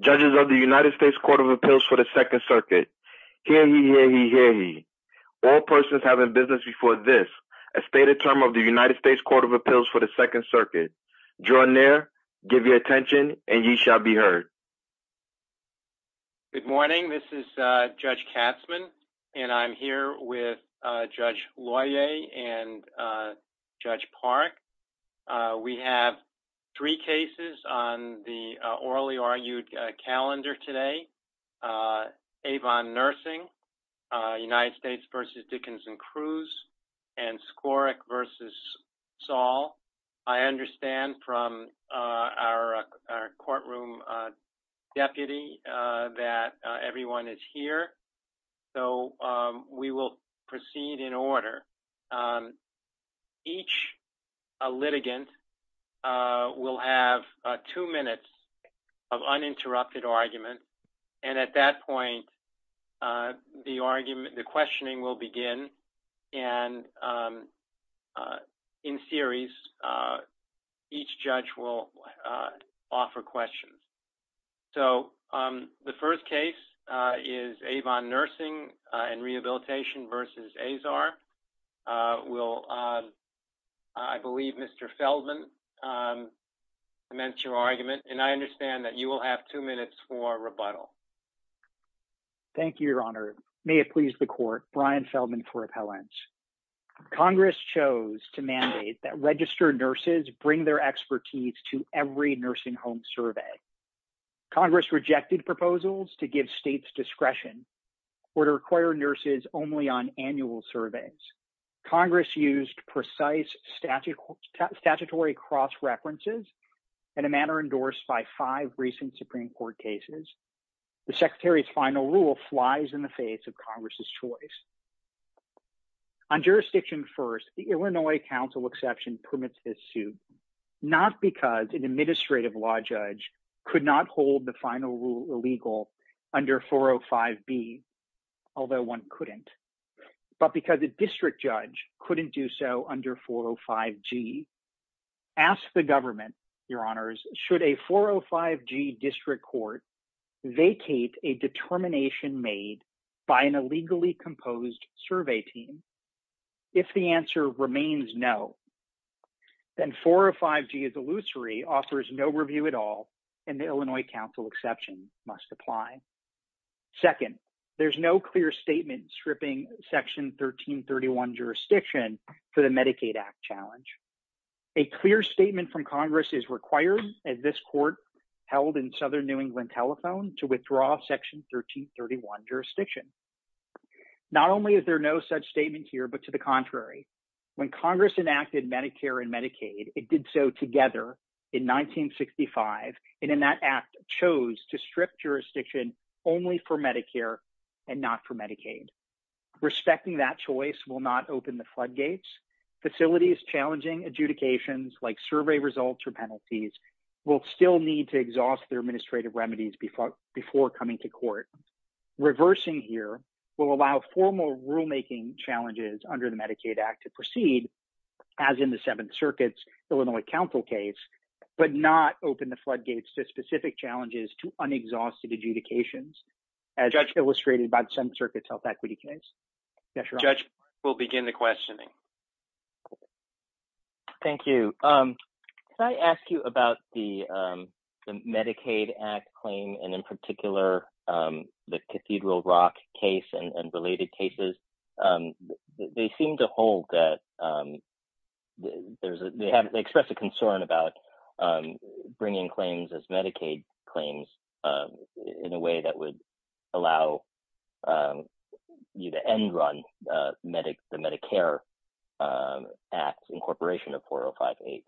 Judges of the United States Court of Appeals for the Second Circuit. Hear ye, hear ye, hear ye. All persons having business before this, a stated term of the United States Court of Appeals for the Second Circuit. Draw near, give your attention, and ye shall be heard. Good morning. This is Judge Katzmann, and I'm here with Judge Loyer and Judge Park. We have three cases on the orally argued calendar today. Avon Nursing, United States v. Dickinson-Cruz, and Skoric v. Saul. I understand from our courtroom deputy that everyone is here, so we will proceed in order. Each litigant will have two minutes of uninterrupted argument, and at that point, the argument, the questioning will begin, and in series, each judge will offer questions. So, the first case is Avon Nursing and Rehabilitation v. Azar. I believe Mr. Feldman meant your argument, and I understand that you will have two minutes for rebuttal. Thank you, Your Honor. May it please the Court, Brian Feldman for appellants. Congress chose to mandate that registered nurses bring their expertise to every nursing home survey. Congress rejected proposals to give states discretion or to require nurses only on annual surveys. Congress used precise statutory cross-references in a manner endorsed by five recent Supreme Court cases. The Secretary's final rule flies in the face of Congress's choice. On jurisdiction first, the Illinois Council exception permits this suit, not because an administrative law judge could not hold the final rule illegal under 405B, although one couldn't, but because a district judge couldn't do so under 405G. Ask the government, Your Honors, should a 405G district court vacate a determination made by an illegally composed survey team? If the answer remains no, then 405G's illusory offers no review at all, and the Illinois Council exception must apply. Second, there's no clear statement stripping Section 1331 jurisdiction for the Medicaid Act challenge. A clear statement from Congress is required, as this Court held in Southern New England telephone, to withdraw Section 1331 jurisdiction. Not only is there no such statement here, but to the contrary, when Congress enacted Medicare and Medicaid, it did so together in 1965, and in that Act, it chose to strip jurisdiction only for Medicare and not for Medicaid. Respecting that choice will not open the floodgates. Facilities challenging adjudications, like survey results or penalties, will still need to exhaust their administrative remedies before coming to court. Reversing here will allow formal rulemaking challenges under the Medicaid Act to proceed, as in the Seventh Circuit's Illinois Council case, but not open the floodgates to specific challenges to unexhausted adjudications, as illustrated by the Seventh Circuit's health equity case. Judge, we'll begin the questioning. Thank you. Can I ask you about the Medicaid Act claim, and in particular, the Cathedral Rock case and related cases? They seem to hold that – they express a concern about bringing claims as Medicaid claims in a way that would allow you to end-run the Medicare Act incorporation of 405H.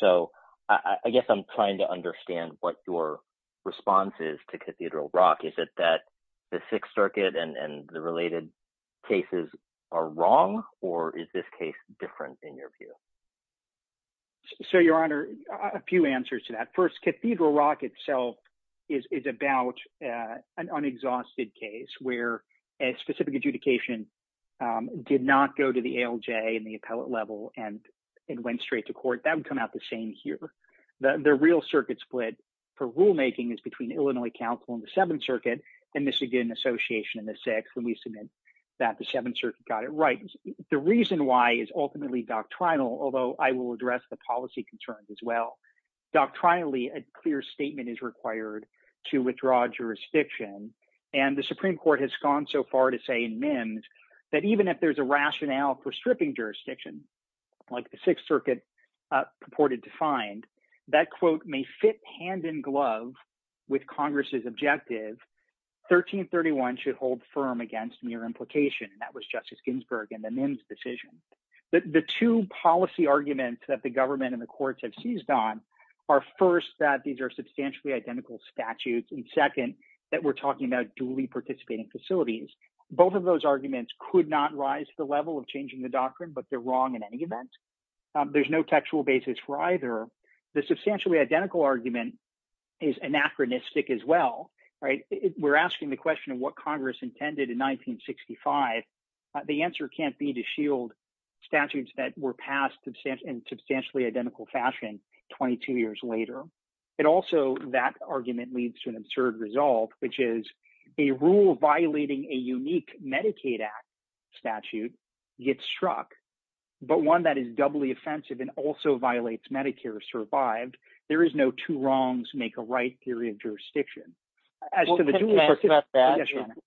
So I guess I'm trying to understand what your response is to Cathedral Rock. Is it that the Sixth Circuit and the related cases are wrong, or is this case different in your view? So, Your Honor, a few answers to that. First, Cathedral Rock itself is about an unexhausted case where a specific adjudication did not go to the ALJ and the appellate level and went straight to court. That would come out the same here. The real circuit split for rulemaking is between Illinois Council and the Seventh Circuit and Michigan Association and the Sixth, and we submit that the Seventh Circuit got it right. The reason why is ultimately doctrinal, although I will address the policy concerns as well. Doctrinally, a clear statement is required to withdraw jurisdiction, and the Supreme Court has gone so far to say in MIMS that even if there's a rationale for stripping jurisdiction, like the Sixth Circuit purported to find, that, quote, may fit hand in glove with Congress's objective, 1331 should hold firm against mere implication. That was Justice Ginsburg in the MIMS decision. The two policy arguments that the government and the courts have seized on are, first, that these are substantially identical statutes, and second, that we're talking about duly participating facilities. Both of those arguments could not rise to the level of changing the doctrine, but they're wrong in any event. There's no textual basis for either. The substantially identical argument is anachronistic as well, right? We're asking the question of what Congress intended in 1965. The answer can't be to shield statutes that were passed in substantially identical fashion 22 years later. Also, that argument leads to an absurd result, which is a rule violating a unique Medicaid Act statute gets struck, but one that is doubly offensive and also violates Medicare is survived. There is no two wrongs make a right theory of jurisdiction.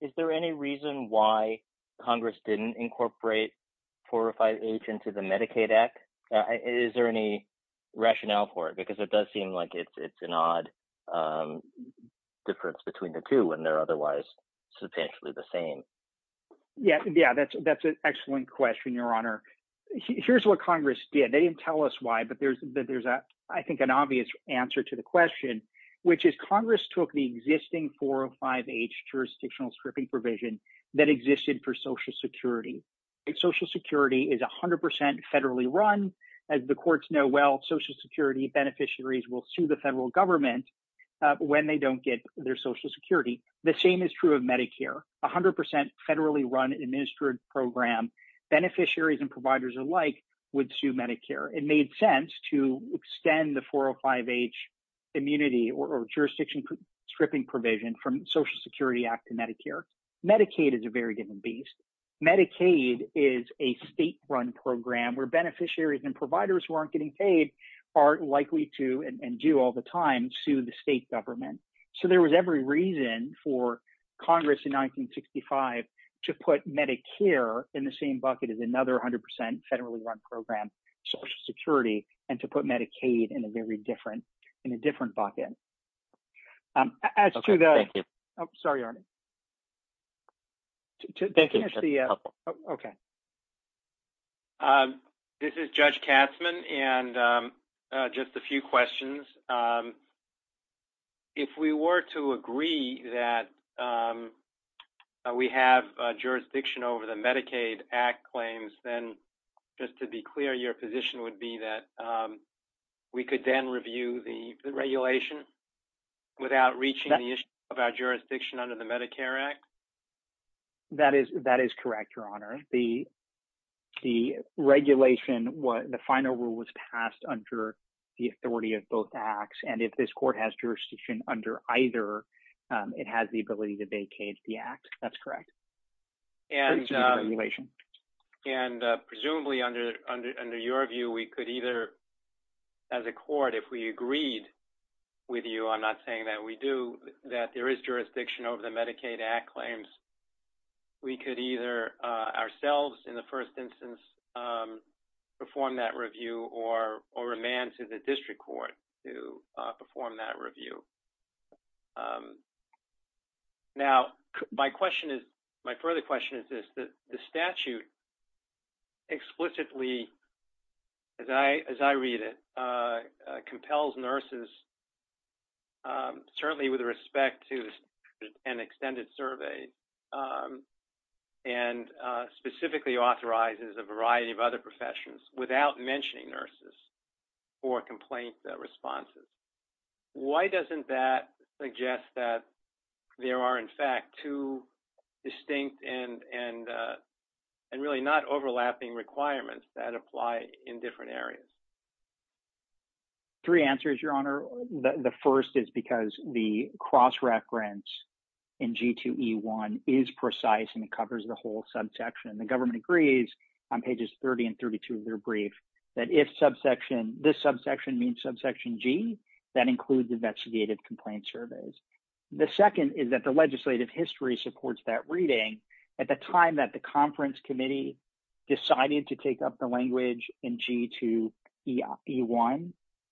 Is there any reason why Congress didn't incorporate 4 or 5H into the Medicaid Act? Is there any rationale for it? Because it does seem like it's an odd difference between the two when they're otherwise substantially the same. Yeah, that's an excellent question, Your Honor. Here's what Congress did. They didn't tell us why, but there's I think an obvious answer to the question, which is Congress took the existing 4 or 5H jurisdictional stripping provision that existed for Social Security. Social Security is 100 percent federally run. As the courts know well, Social Security beneficiaries will sue the federal government when they don't get their Social Security. The same is true of Medicare, 100 percent federally run administered program. Beneficiaries and providers alike would sue Medicare. It made sense to extend the 4 or 5H immunity or jurisdiction stripping provision from Social Security Act to Medicare. Medicaid is a very different beast. Medicaid is a state run program where beneficiaries and providers who aren't getting paid are likely to and do all the time sue the state government. So there was every reason for Congress in 1965 to put Medicare in the same bucket as another 100 percent federally run program, Social Security, and to put Medicaid in a very different – in a different bucket. This is Judge Katzmann and just a few questions. If we were to agree that we have jurisdiction over the Medicaid Act claims, then just to be clear, your position would be that we could then review the regulation without reaching the issue of our jurisdiction under the Medicare Act? That is correct, Your Honor. The regulation, the final rule was passed under the authority of both Acts, and if this court has jurisdiction under either, it has the ability to vacate the Act. That's correct. And presumably under your view, we could either, as a court, if we agreed with you, I'm not saying that we do, that there is jurisdiction over the Medicaid Act claims, we could either ourselves in the first instance perform that review or remand to the district court to perform that review. Now, my question is – my further question is this. The statute explicitly, as I read it, compels nurses, certainly with respect to an extended survey, and specifically authorizes a variety of other professions without mentioning nurses for complaint responses. Why doesn't that suggest that there are, in fact, two distinct and really not overlapping requirements that apply in different areas? Three answers, Your Honor. The first is because the cross-reference in G2E1 is precise and covers the whole subsection. The government agrees on pages 30 and 32 of their brief that if subsection – this subsection means subsection G, that includes investigative complaint surveys. The second is that the legislative history supports that reading. At the time that the conference committee decided to take up the language in G2E1,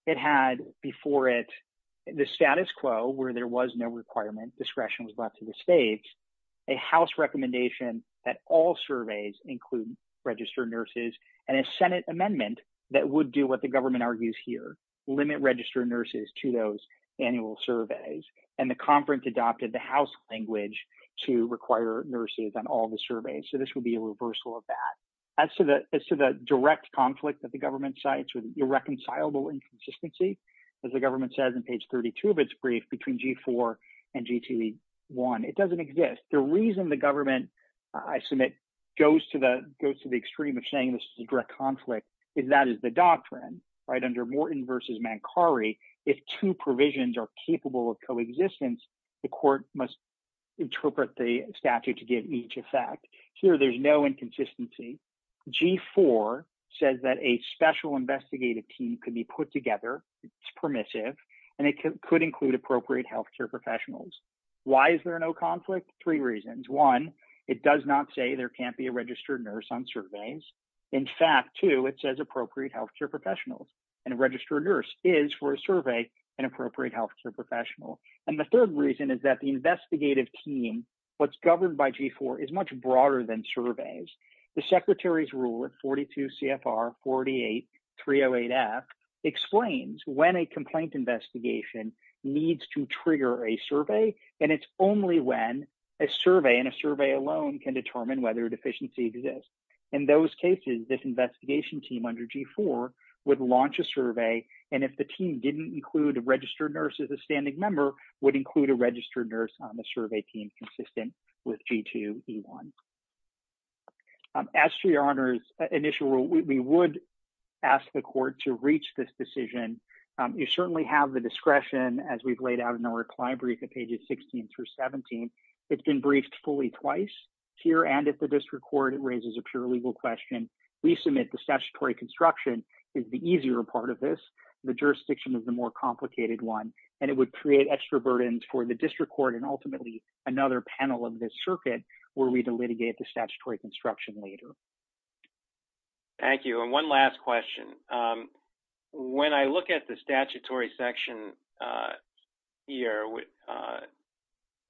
it had before it the status quo, where there was no requirement, discretion was left to the states, a House recommendation that all surveys include registered nurses, and a Senate amendment that would do what the government argues here, limit registered nurses to those annual surveys. And the conference adopted the House language to require nurses on all the surveys, so this would be a reversal of that. As to the direct conflict that the government cites with irreconcilable inconsistency, as the government says in page 32 of its brief, between G4 and G2E1, it doesn't exist. The reason the government, I submit, goes to the extreme of saying this is a direct conflict is that is the doctrine. Under Morton v. Mancari, if two provisions are capable of coexistence, the court must interpret the statute to give each effect. Here, there's no inconsistency. G4 says that a special investigative team can be put together, it's permissive, and it could include appropriate health care professionals. Why is there no conflict? Three reasons. One, it does not say there can't be a registered nurse on surveys. In fact, two, it says appropriate health care professionals, and a registered nurse is, for a survey, an appropriate health care professional. And the third reason is that the investigative team, what's governed by G4, is much broader than surveys. The Secretary's Rule of 42 CFR 48308F explains when a complaint investigation needs to trigger a survey, and it's only when a survey, and a survey alone, can determine whether a deficiency exists. In those cases, this investigation team under G4 would launch a survey, and if the team didn't include a registered nurse as a standing member, would include a registered nurse on the survey team consistent with G2E1. As to your Honor's initial rule, we would ask the court to reach this decision. You certainly have the discretion, as we've laid out in our client brief at pages 16 through 17. It's been briefed fully twice here and at the district court. It raises a pure legal question. We submit the statutory construction is the easier part of this. The jurisdiction is the more complicated one, and it would create extra burdens for the district court and ultimately another panel of this circuit were we to litigate the statutory construction later. Thank you. One last question. When I look at the statutory section here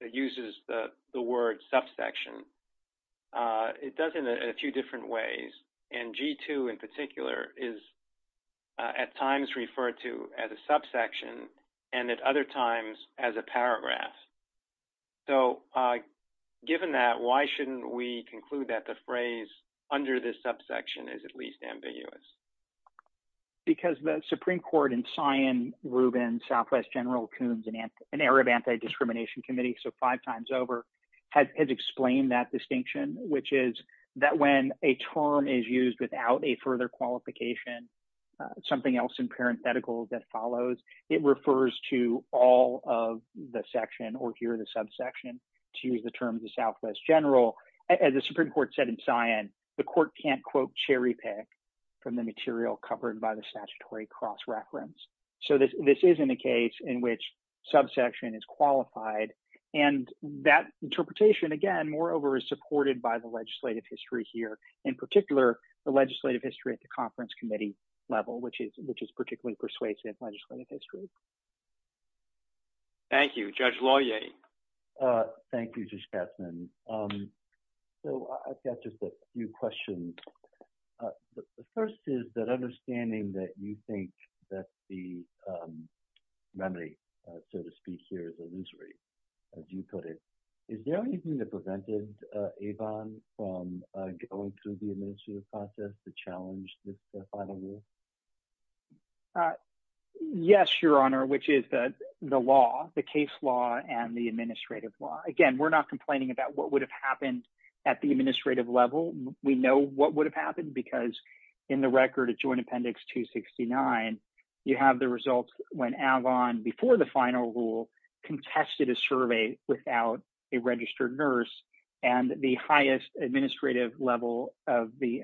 that uses the word subsection, it does it in a few different ways, and G2 in particular is at times referred to as a subsection and at other times as a paragraph. Given that, why shouldn't we conclude that the phrase under this subsection is at least ambiguous? Because the Supreme Court in Scion, Rubin, Southwest General, Coons, and Arab Anti-Discrimination Committee, so five times over, has explained that distinction, which is that when a term is used without a further qualification, something else in parenthetical that follows, it refers to all of the section or here the subsection to use the terms of Southwest General. As the Supreme Court said in Scion, the court can't quote cherry pick from the material covered by the statutory cross reference. So this isn't a case in which subsection is qualified, and that interpretation, again, moreover, is supported by the legislative history here, in particular, the legislative history at the conference committee level, which is particularly persuasive legislative history. Thank you. Judge Laudier. Thank you, Judge Katzmann. So I've got just a few questions. The first is that understanding that you think that the remedy, so to speak, here is illusory, as you put it. Is there anything that prevented Avon from going through the administrative process to challenge this final rule? Yes, Your Honor, which is the law, the case law and the administrative law. Again, we're not complaining about what would have happened at the administrative level. We know what would have happened because in the record of Joint Appendix 269, you have the results when Avon, before the final rule, contested a survey without a registered nurse. And the highest administrative level of the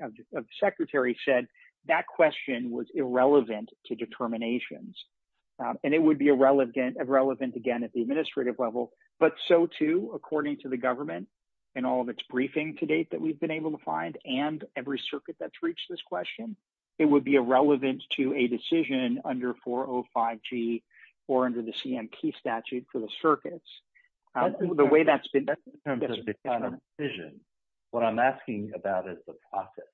Secretary said that question was irrelevant to determinations. And it would be irrelevant, again, at the administrative level, but so, too, according to the government and all of its briefing to date that we've been able to find and every circuit that's reached this question, it would be irrelevant to a decision under 405G or under the CMT statute for the circuits. In terms of the final decision, what I'm asking about is the process.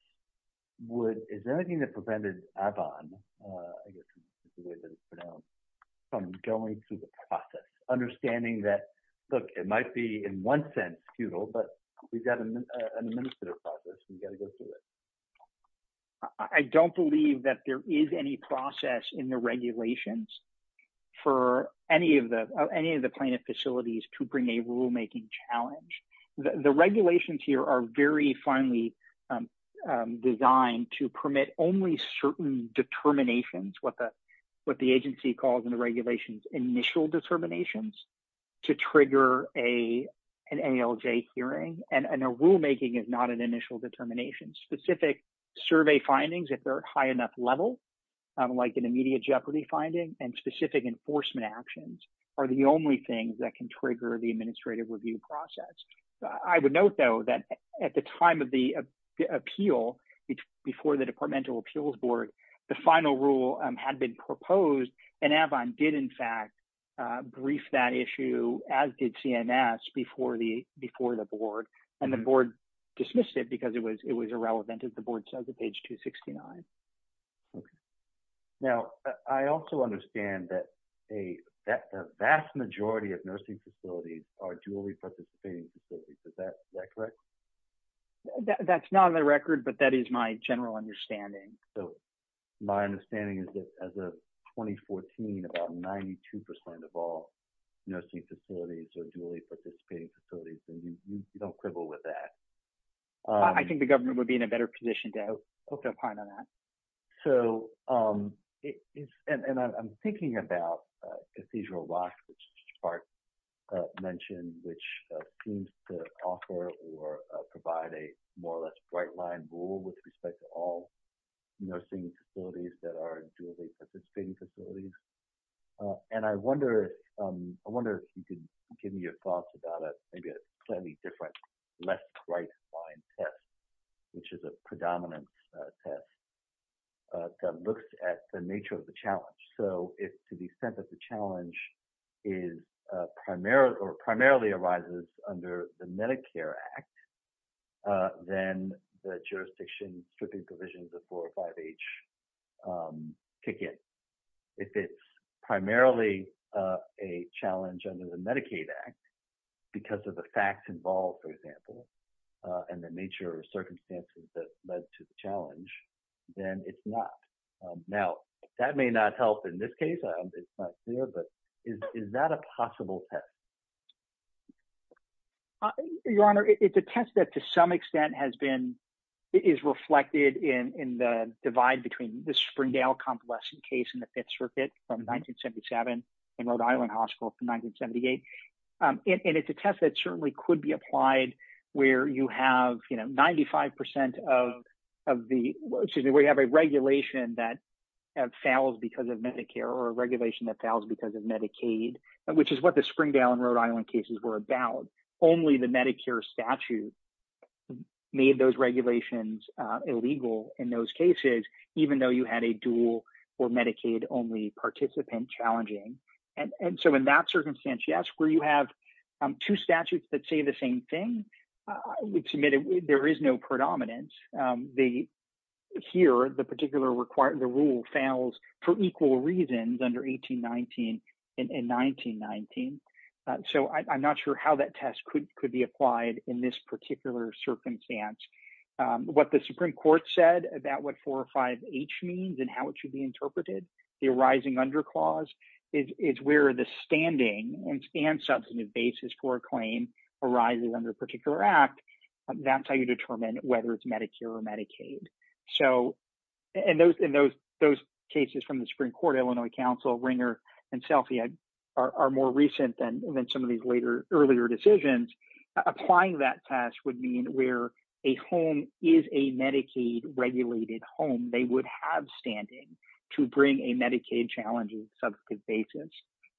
Is there anything that prevented Avon from going through the process, understanding that, look, it might be in one sense futile, but we've got an administrative process and we've got to go through it? I don't believe that there is any process in the regulations for any of the plaintiff facilities to bring a rulemaking challenge. The regulations here are very finely designed to permit only certain determinations, what the agency calls in the regulations initial determinations, to trigger an ALJ hearing. And a rulemaking is not an initial determination. Specific survey findings, if they're high enough level, like an immediate jeopardy finding and specific enforcement actions are the only things that can trigger the administrative review process. I would note, though, that at the time of the appeal, before the departmental appeals board, the final rule had been proposed and Avon did, in fact, brief that issue, as did CNS, before the board. And the board dismissed it because it was irrelevant, as the board says, at page 269. Now, I also understand that a vast majority of nursing facilities are dually participating facilities. Is that correct? That's not on the record, but that is my general understanding. So my understanding is that as of 2014, about 92% of all nursing facilities are dually participating facilities, and we don't quibble with that. I think the government would be in a better position to open up on that. So, and I'm thinking about Ephesian Rock, which Spark mentioned, which seems to offer or provide a more or less bright line rule with respect to all nursing facilities that are dually participating facilities. And I wonder if you could give me your thoughts about maybe a slightly different, less bright line test, which is a predominant test that looks at the nature of the challenge. So if, to the extent that the challenge is primarily, or primarily arises under the Medicare Act, then the jurisdiction stripping provisions of 405H kick in. If it's primarily a challenge under the Medicaid Act, because of the facts involved, for example, and the nature of circumstances that led to the challenge, then it's not. Now, that may not help in this case, it's not clear, but is that a possible test? Your Honor, it's a test that to some extent has been, is reflected in the divide between the Springdale convalescent case in the Fifth Circuit from 1977 and Rhode Island Hospital from 1978. And it's a test that certainly could be applied where you have, you know, 95% of the, excuse me, where you have a regulation that fails because of Medicare or a regulation that fails because of Medicaid, which is what the Springdale and Rhode Island cases were about. Only the Medicare statute made those regulations illegal in those cases, even though you had a dual or Medicaid only participant challenging. And so in that circumstance, yes, where you have two statutes that say the same thing, we've submitted, there is no predominance. Here, the particular requirement, the rule fails for equal reasons under 1819 and 1919. So I'm not sure how that test could be applied in this particular circumstance. What the Supreme Court said about what 4 or 5H means and how it should be interpreted, the arising under clause, is where the standing and substantive basis for a claim arises under a particular act. That's how you determine whether it's Medicare or Medicaid. And those cases from the Supreme Court, Illinois Council, Ringer, and Selfiad are more recent than some of these later, earlier decisions. Applying that test would mean where a home is a Medicaid regulated home, they would have standing to bring a Medicaid challenge on a substantive basis.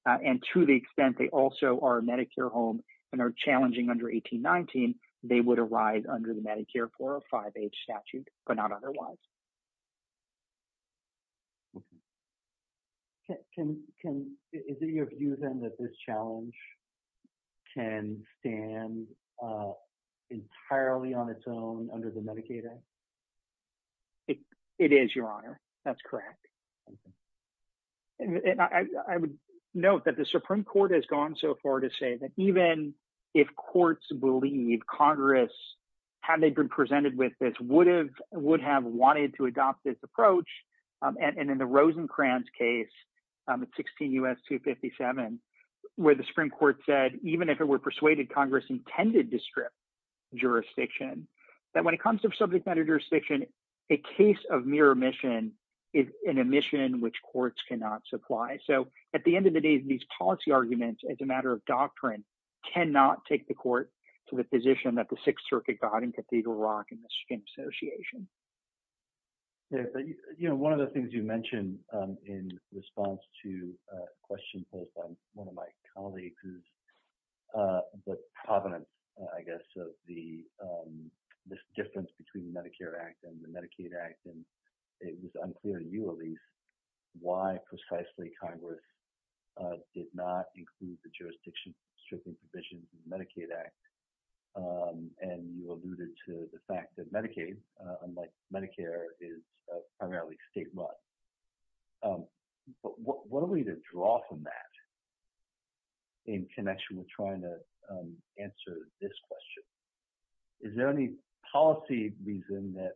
And to the extent they also are a Medicare home and are challenging under 1819, they would arise under the Medicare 4 or 5H statute, but not otherwise. Is it your view, then, that this challenge can stand entirely on its own under the Medicaid Act? It is, Your Honor. That's correct. I would note that the Supreme Court has gone so far to say that even if courts believe Congress, had they been presented with this, would have wanted to adopt this approach, and in the Rosencrantz case, 16 U.S. 257, where the Supreme Court said, even if it were persuaded, Congress intended to strip that when it comes to subject matter jurisdiction, a case of mere omission is an omission which courts cannot supply. So at the end of the day, these policy arguments, as a matter of doctrine, cannot take the court to the position that the Sixth Circuit got in Cathedral Rock and the String Association. One of the things you mentioned in response to a question posed by one of my colleagues is the provenance, I guess, of the difference between the Medicare Act and the Medicaid Act. And it was unclear to you, Alyse, why precisely Congress did not include the jurisdiction stripping provisions of the Medicaid Act. And you alluded to the fact that Medicaid, unlike Medicare, is primarily state-run. But what are we to draw from that in connection with trying to answer this question? Is there any policy reason that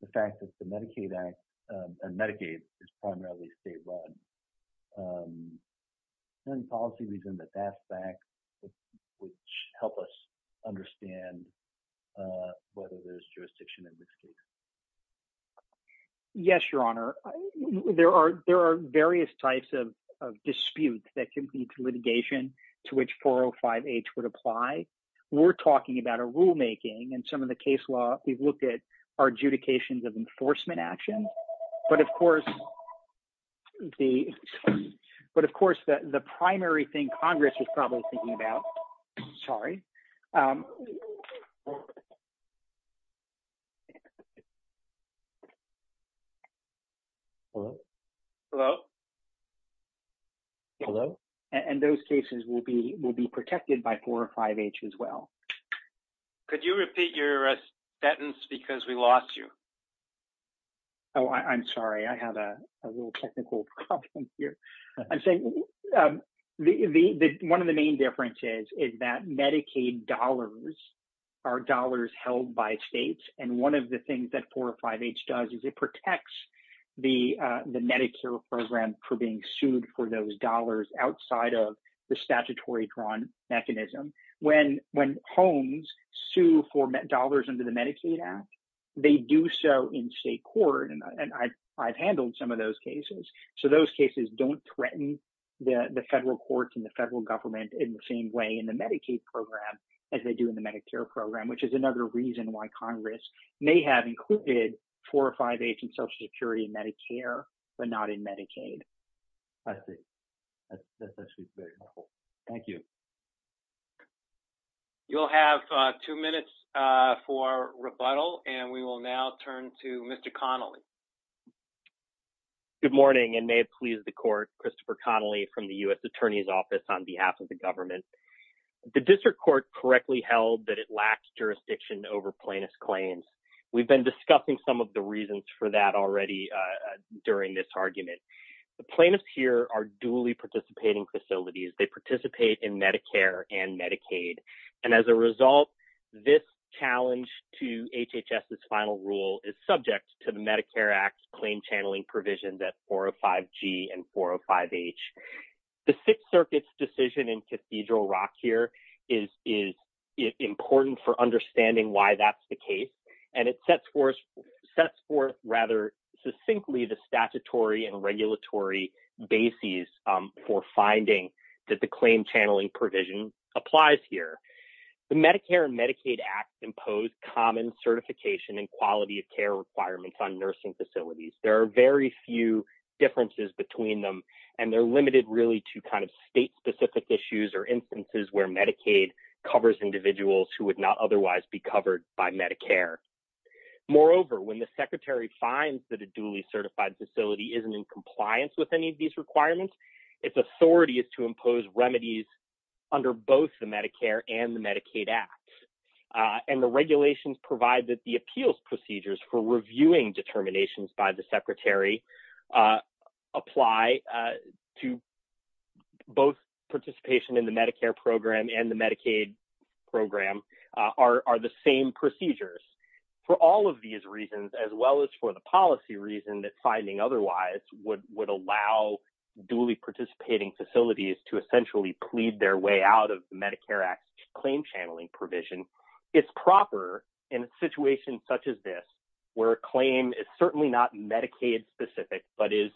the fact that the Medicaid Act and Medicaid is primarily state-run, is there any policy reason that that fact would help us understand whether there's jurisdiction in this case? Yes, Your Honor. There are various types of disputes that can lead to litigation to which 405H would apply. We're talking about a rulemaking. In some of the case law, we've looked at adjudications of enforcement action. But, of course, the primary thing Congress is probably thinking about... And those cases will be protected by 405H as well. Could you repeat your sentence? Because we lost you. Oh, I'm sorry. I have a little technical problem here. One of the main differences is that Medicaid dollars are dollars held by states. And one of the things that 405H does is it protects the Medicare program for being sued for those dollars outside of the statutory drawn mechanism. When homes sue for dollars under the Medicaid Act, they do so in state court. And I've handled some of those cases. So those cases don't threaten the federal courts and the federal government in the same way in the Medicaid program as they do in the Medicare program, which is another reason why Congress may have included 405H in Social Security and Medicare, but not in Medicaid. I see. That's very helpful. Thank you. You'll have two minutes for rebuttal, and we will now turn to Mr. Connolly. Good morning, and may it please the Court, Christopher Connolly from the U.S. Attorney's Office on behalf of the government. The District Court correctly held that it lacks jurisdiction over plaintiff's claims. We've been discussing some of the reasons for that already during this argument. The plaintiffs here are duly participating facilities. They participate in Medicare and Medicaid. And as a result, this challenge to HHS's final rule is subject to the Medicare Act's claim channeling provisions at 405G and 405H. The Sixth Circuit's decision in Cathedral Rock here is important for understanding why that's the case, and it sets forth rather succinctly the statutory and regulatory bases for finding that the claim channeling provision applies here. The Medicare and Medicaid Act impose common certification and quality of care requirements on nursing facilities. There are very few differences between them, and they're limited really to kind of state-specific issues or instances where Medicaid covers individuals who would not otherwise be covered by Medicare. Moreover, when the Secretary finds that a duly certified facility isn't in compliance with any of these requirements, its authority is to impose remedies under both the Medicare and the Medicaid Act. And the regulations provide that the appeals procedures for reviewing determinations by the Secretary apply to both participation in the Medicare program and the Medicaid program are the same procedures. For all of these reasons, as well as for the policy reason that finding otherwise would allow duly participating facilities to essentially plead their way out of the Medicare Act claim channeling provision, it's proper in a situation such as this where a claim is certainly not Medicaid-specific but is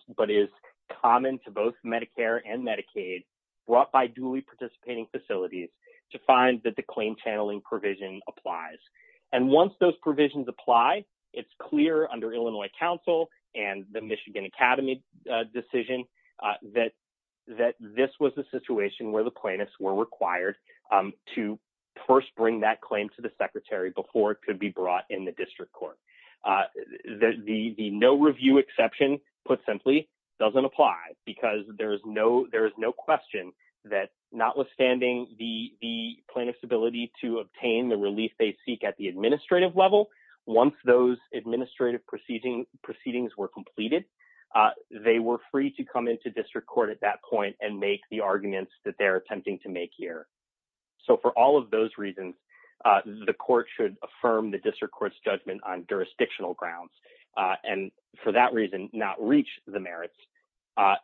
common to both Medicare and Medicaid brought by duly participating facilities to find that the claim channeling provision applies. And once those provisions apply, it's clear under Illinois Council and the Michigan Academy decision that this was a situation where the plaintiffs were required to first bring that claim to the Secretary before it could be brought in the district court. The no review exception, put simply, doesn't apply because there is no question that notwithstanding the plaintiff's ability to obtain the relief they seek at the administrative level, once those administrative proceedings were completed, they were free to come into district court at that point and make the arguments that they're attempting to make here. So for all of those reasons, the court should affirm the district court's judgment on jurisdictional grounds and, for that reason, not reach the merits.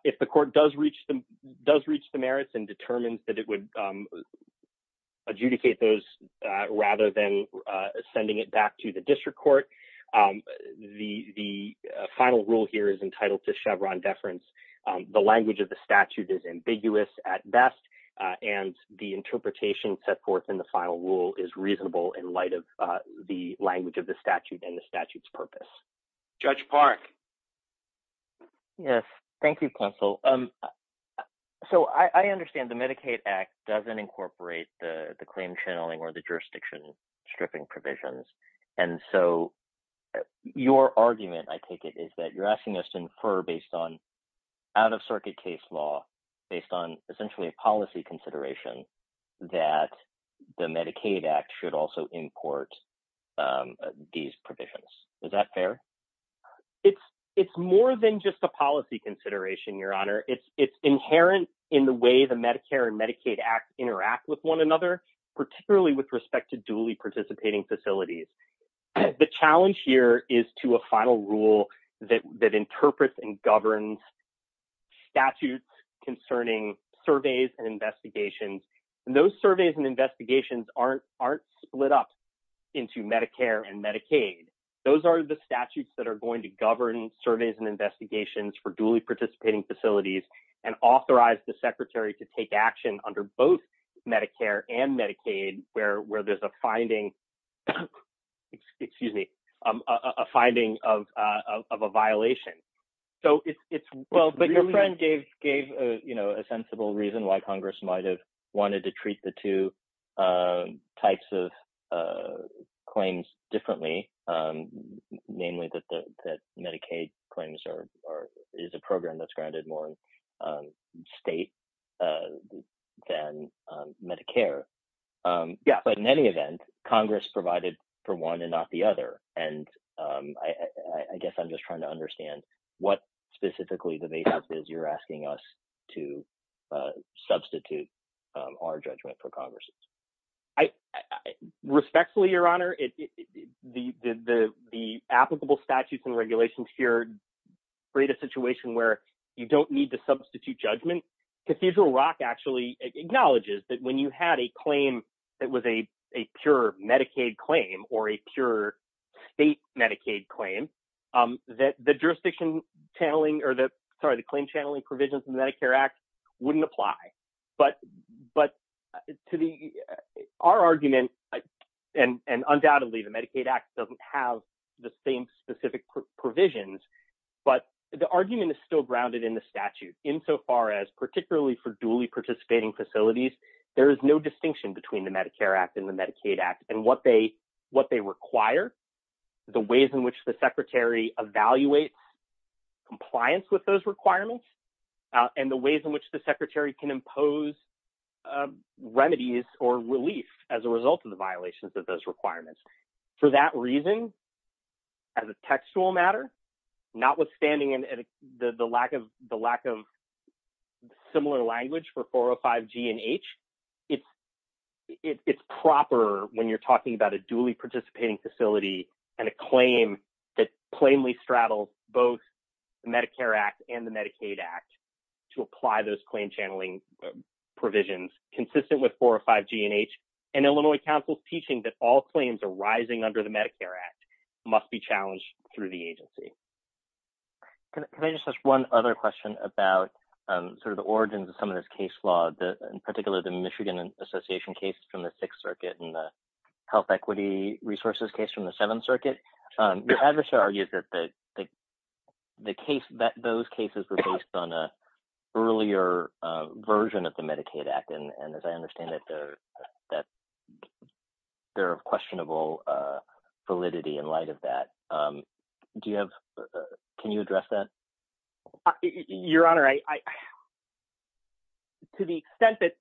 If the court does reach the merits and determines that it would adjudicate those rather than sending it back to the district court, the final rule here is entitled to Chevron deference. The language of the statute is ambiguous at best, and the interpretation set forth in the final rule is reasonable in light of the language of the statute and the statute's purpose. Judge Park. Yes, thank you, counsel. So I understand the Medicaid Act doesn't incorporate the claim channeling or the jurisdiction stripping provisions. And so your argument, I take it, is that you're asking us to infer based on out-of-circuit case law, based on essentially a policy consideration that the Medicaid Act should also import these provisions. Is that fair? It's more than just a policy consideration, Your Honor. It's inherent in the way the Medicare and Medicaid Act interact with one another, particularly with respect to duly participating facilities. The challenge here is to a final rule that interprets and governs statutes concerning surveys and investigations. Those surveys and investigations aren't split up into Medicare and Medicaid. Those are the statutes that are going to govern surveys and investigations for duly participating facilities and authorize the secretary to take action under both Medicare and Medicaid where there's a finding of a violation. But your friend gave a sensible reason why Congress might have wanted to treat the two types of claims differently, namely that Medicaid claims is a program that's granted more in state than Medicare. But in any event, Congress provided for one and not the other. And I guess I'm just trying to understand what specifically the basis is you're asking us to substitute our judgment for Congress's. Respectfully, Your Honor, the applicable statutes and regulations here create a situation where you don't need to substitute judgment. Cathedral Rock actually acknowledges that when you had a claim that was a pure Medicaid claim or a pure state Medicaid claim, the jurisdiction channeling or the claim channeling provisions in the Medicare Act wouldn't apply. But our argument, and undoubtedly the Medicaid Act doesn't have the same specific provisions, but the argument is still grounded in the statute insofar as particularly for duly participating facilities, there is no distinction between the Medicare Act and the Medicaid Act and what they require, the ways in which the secretary evaluates compliance with those requirements, and the ways in which the secretary can impose remedies or relief as a result of the violations of those requirements. For that reason, as a textual matter, notwithstanding the lack of similar language for 405 G and H, it's proper when you're talking about a duly participating facility and a claim that plainly straddles both the Medicare Act and the Medicaid Act to apply those claim channeling provisions consistent with 405 G and H. And Illinois Council's teaching that all claims arising under the Medicare Act must be challenged through the agency. Can I just ask one other question about sort of the origins of some of this case law, in particular the Michigan Association case from the Sixth Circuit and the health equity resources case from the Seventh Circuit? Your adversary argues that those cases were based on an earlier version of the Medicaid Act, and as I understand it, they're of questionable validity in light of that. Can you address that? Your Honor, to the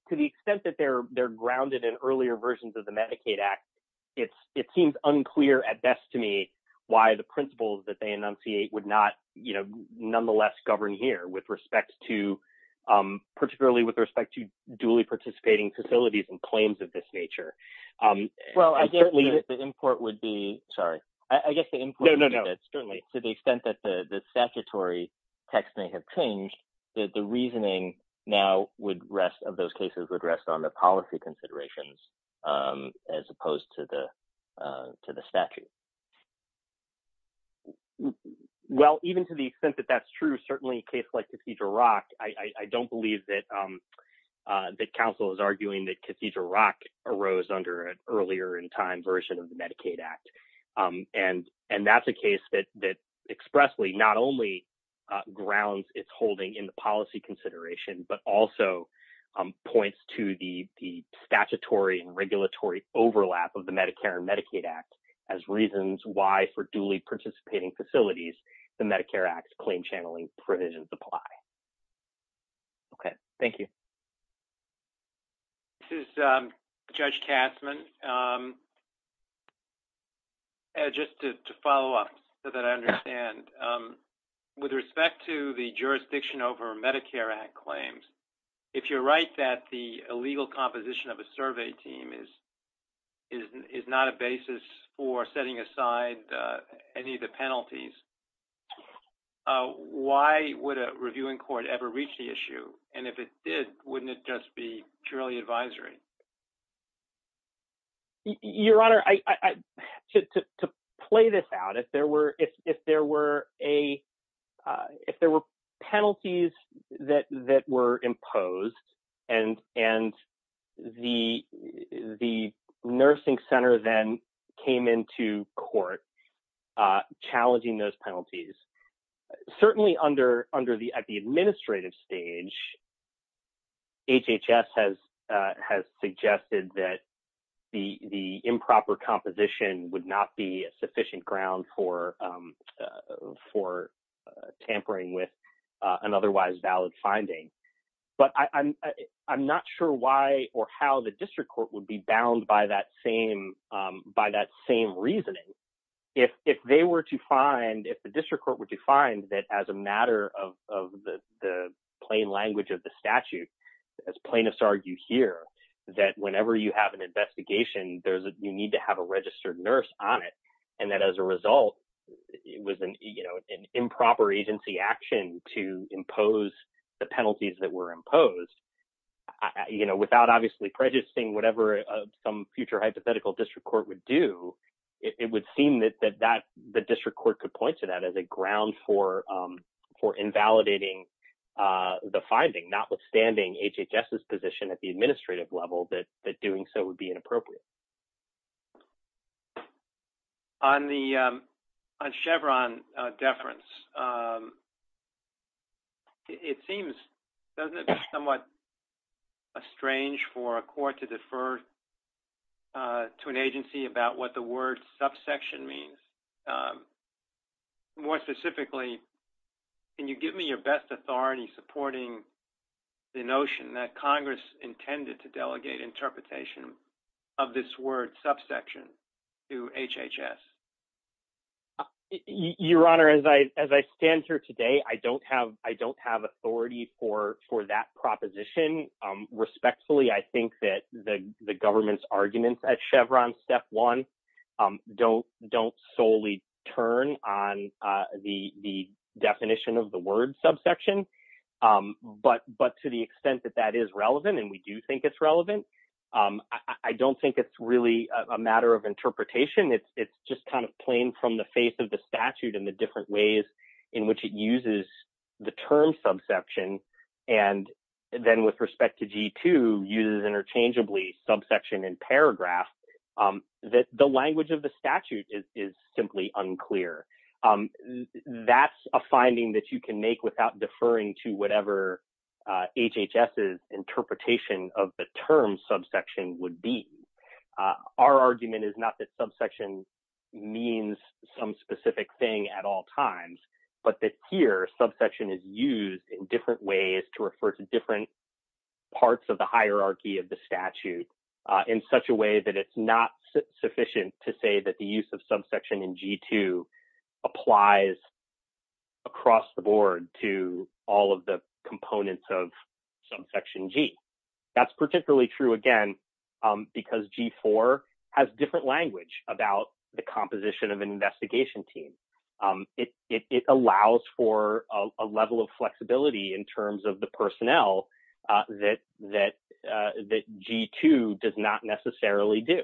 extent that they're grounded in earlier versions of the Medicaid Act, it seems unclear at best to me why the principles that they enunciate would nonetheless govern here, particularly with respect to duly participating facilities and claims of this nature. Well, I guess the import would be to the extent that the statutory text may have changed, the reasoning now of those cases would rest on the policy considerations as opposed to the statute. Well, even to the extent that that's true, certainly in a case like Cathedral Rock, I don't believe that Council is arguing that Cathedral Rock arose under an earlier in time version of the Medicaid Act. And that's a case that expressly not only grounds its holding in the policy consideration, but also points to the statutory and regulatory overlap of the Medicare and Medicaid Act as reasons why, for duly participating facilities, the Medicare Act's claim channeling provisions apply. Okay, thank you. This is Judge Katzmann. Just to follow up so that I understand, with respect to the jurisdiction over Medicare Act claims, if you're right that the illegal composition of a survey team is not a basis for setting aside any of the penalties, why would a reviewing court ever reach the issue? And if it did, wouldn't it just be purely advisory? Your Honor, to play this out, if there were penalties that were imposed and the nursing center then came into court challenging those penalties, certainly at the administrative stage, HHS has suggested that the improper composition would not be sufficient ground for tampering with an otherwise valid finding. But I'm not sure why or how the district court would be bound by that same reasoning. If they were to find, if the district court were to find that as a matter of the plain language of the statute, as plaintiffs argue here, that whenever you have an investigation, you need to have a registered nurse on it, and that as a result, it was an improper agency action to impose the penalties that were imposed, without obviously prejudicing whatever some future hypothetical district court would do, it would seem that the district court could point to that as a ground for invalidating the finding, notwithstanding HHS's position at the administrative level that doing so would be inappropriate. On the Chevron deference, it seems somewhat strange for a court to defer to an agency about what the word subsection means. More specifically, can you give me your best authority supporting the notion that Congress intended to delegate interpretation of this word subsection to HHS? Your Honor, as I stand here today, I don't have authority for that proposition. Respectfully, I think that the government's arguments at Chevron step one don't solely turn on the definition of the word subsection, but to the extent that that is relevant, and we do think it's relevant, I don't think it's really a matter of interpretation. It's just kind of plain from the face of the statute and the different ways in which it uses the term subsection, and then with respect to G2, uses interchangeably subsection and paragraph, that the language of the statute is simply unclear. That's a finding that you can make without deferring to whatever HHS's interpretation of the term subsection would be. Our argument is not that subsection means some specific thing at all times, but that here subsection is used in different ways to refer to different parts of the hierarchy of the statute in such a way that it's not sufficient to say that the use of subsection in G2 applies across the board to all of the components of subsection G. That's particularly true, again, because G4 has different language about the composition of an investigation team. It allows for a level of flexibility in terms of the personnel that G2 does not necessarily do,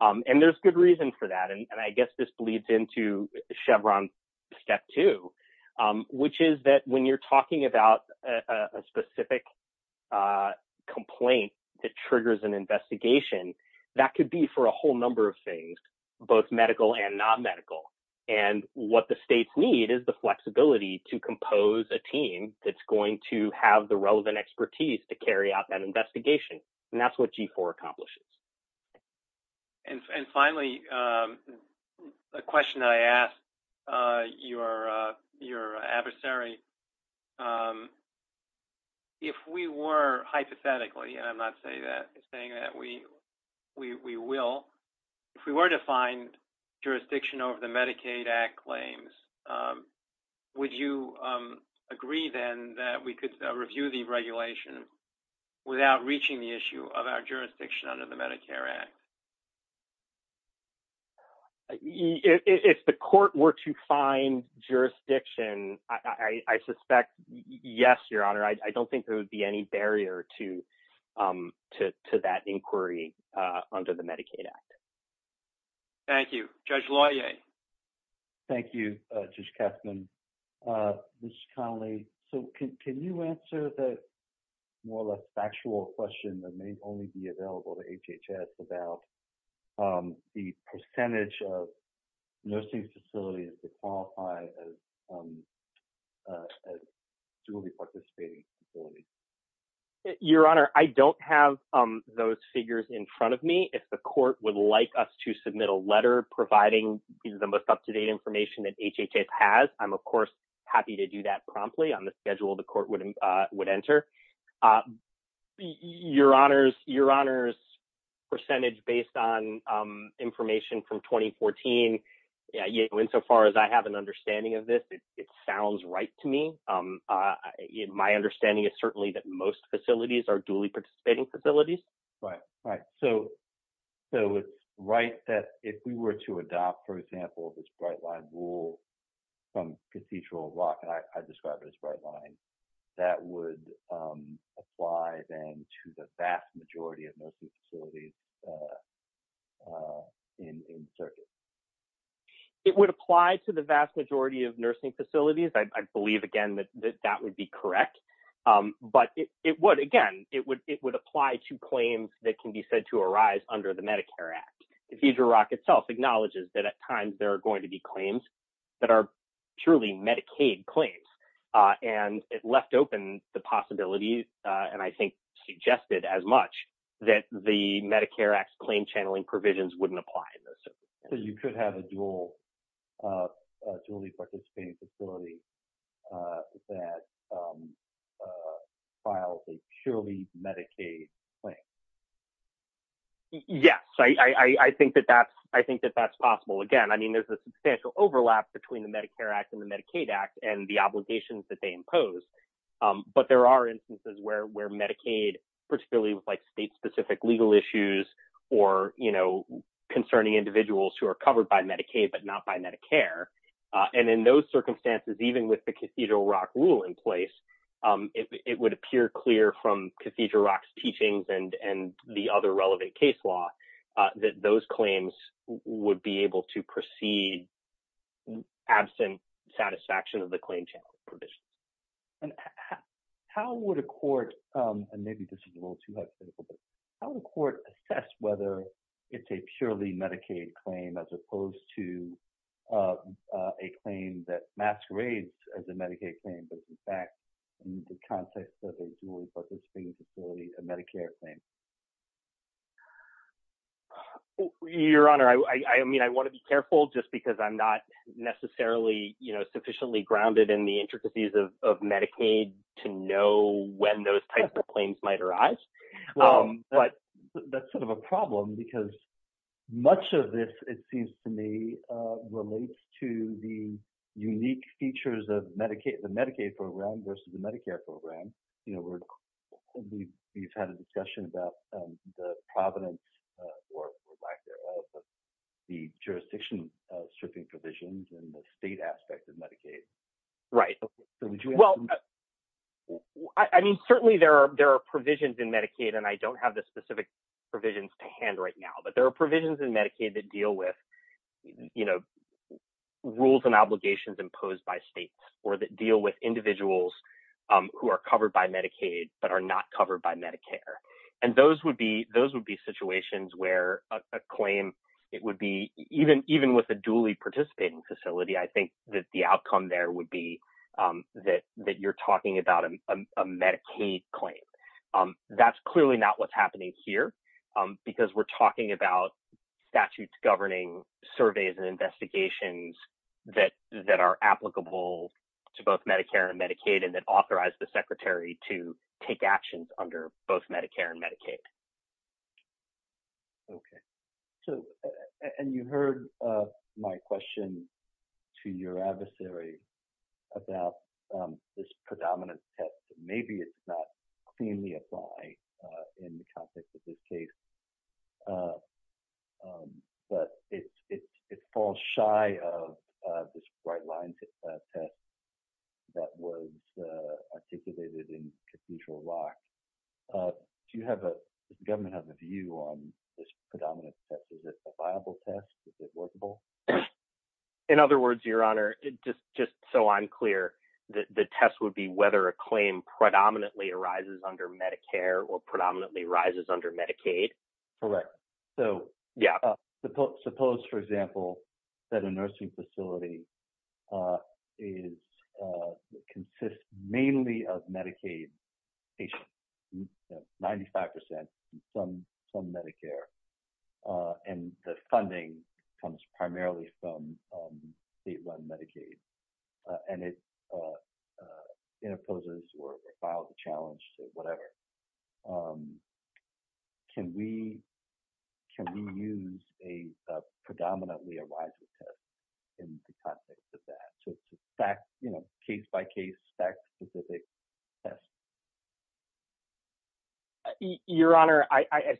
and there's good reason for that, and I guess this bleeds into Chevron step two, which is that when you're talking about a specific complaint that triggers an investigation, that could be for a whole number of things, both medical and non-medical. What the states need is the flexibility to compose a team that's going to have the relevant expertise to carry out that investigation, and that's what G4 accomplishes. Finally, a question that I asked your adversary, if we were, hypothetically, and I'm not saying that we will, if we were to find jurisdiction over the Medicaid Act claims, would you agree, then, that we could review the regulation without reaching the issue of our jurisdiction under the Medicare Act? If the court were to find jurisdiction, I suspect, yes, Your Honor. I don't think there would be any barrier to that inquiry under the Medicaid Act. Thank you. Judge Laue? Thank you, Judge Kessman. Mr. Connolly, can you answer the more or less factual question that may only be available to HHS about the percentage of nursing facilities that qualify as duly participating facilities? Your Honor, I don't have those figures in front of me. If the court would like us to submit a letter providing the most up-to-date information that HHS has, I'm, of course, happy to do that promptly on the schedule the court would enter. Your Honor's percentage based on information from 2014, insofar as I have an understanding of this, it sounds right to me. In my understanding, it's certainly that most facilities are duly participating facilities. Right. So, it's right that if we were to adopt, for example, this Bright Line rule from procedural law, and I describe it as Bright Line, that would apply, then, to the vast majority of nursing facilities in service? It would apply to the vast majority of nursing facilities. I believe, again, that that would be correct. But it would, again, it would apply to claims that can be said to arise under the Medicare Act. Cathedral Rock itself acknowledges that, at times, there are going to be claims that are truly Medicaid claims. And it left open the possibility, and I think suggested as much, that the Medicare Act claim channeling provisions wouldn't apply in those circumstances. So, you could have a duly participating facility that files a purely Medicaid claim? Yes. I think that that's possible. Again, I mean, there's a substantial overlap between the Medicare Act and the Medicaid Act and the obligations that they impose. But there are instances where Medicaid, particularly with, like, state-specific legal issues or, you know, concerning individuals who are covered by Medicaid but not by Medicare. And in those circumstances, even with the Cathedral Rock rule in place, it would appear clear from Cathedral Rock's teachings and the other relevant case law that those claims would be able to proceed absent satisfaction of the claim channeling provision. And how would a court, and maybe this is a little too hypothetical, but how would a court assess whether it's a purely Medicaid claim as opposed to a claim that masquerades as a Medicaid claim but, in fact, in the context of a duly participating facility, a Medicare claim? Your Honor, I mean, I want to be careful just because I'm not necessarily, you know, sufficiently grounded in the intricacies of Medicaid to know when those types of claims might arise. Well, that's sort of a problem because much of this, it seems to me, relates to the unique features of the Medicaid program versus the Medicare program. You know, we've had a discussion about the providence or lack thereof of the jurisdiction stripping provisions in the state aspect of Medicaid. Right. Well, I mean, certainly there are provisions in Medicaid, and I don't have the specific provisions to hand right now, but there are provisions in Medicaid that deal with, you know, rules and obligations imposed by states or that deal with individuals who are covered by Medicaid but are not covered by Medicare. And those would be situations where a claim, it would be, even with a duly participating facility, I think that the outcome there would be that you're talking about a Medicaid claim. That's clearly not what's happening here because we're talking about statutes governing surveys and investigations that are applicable to both Medicare and Medicaid and that authorize the Secretary to take actions under both Medicare and Medicaid. Okay. So, and you heard my question to your adversary about this predominant test. Maybe it's not cleanly applied in the context of this case. But it falls shy of this right line test that was articulated in Confucial Rock. Do you have a, does the government have a view on this predominant test? Is it a viable test? Is it workable? In other words, Your Honor, just so I'm clear, the test would be whether a claim predominantly arises under Medicare or predominantly arises under Medicaid. Correct. So, suppose, for example, that a nursing facility consists mainly of Medicaid patients, 95% from Medicare, and the funding comes primarily from state-run Medicaid, and it imposes or files a challenge or whatever. Can we use a predominantly arises test in the context of that case-by-case, fact-specific test? Your Honor, I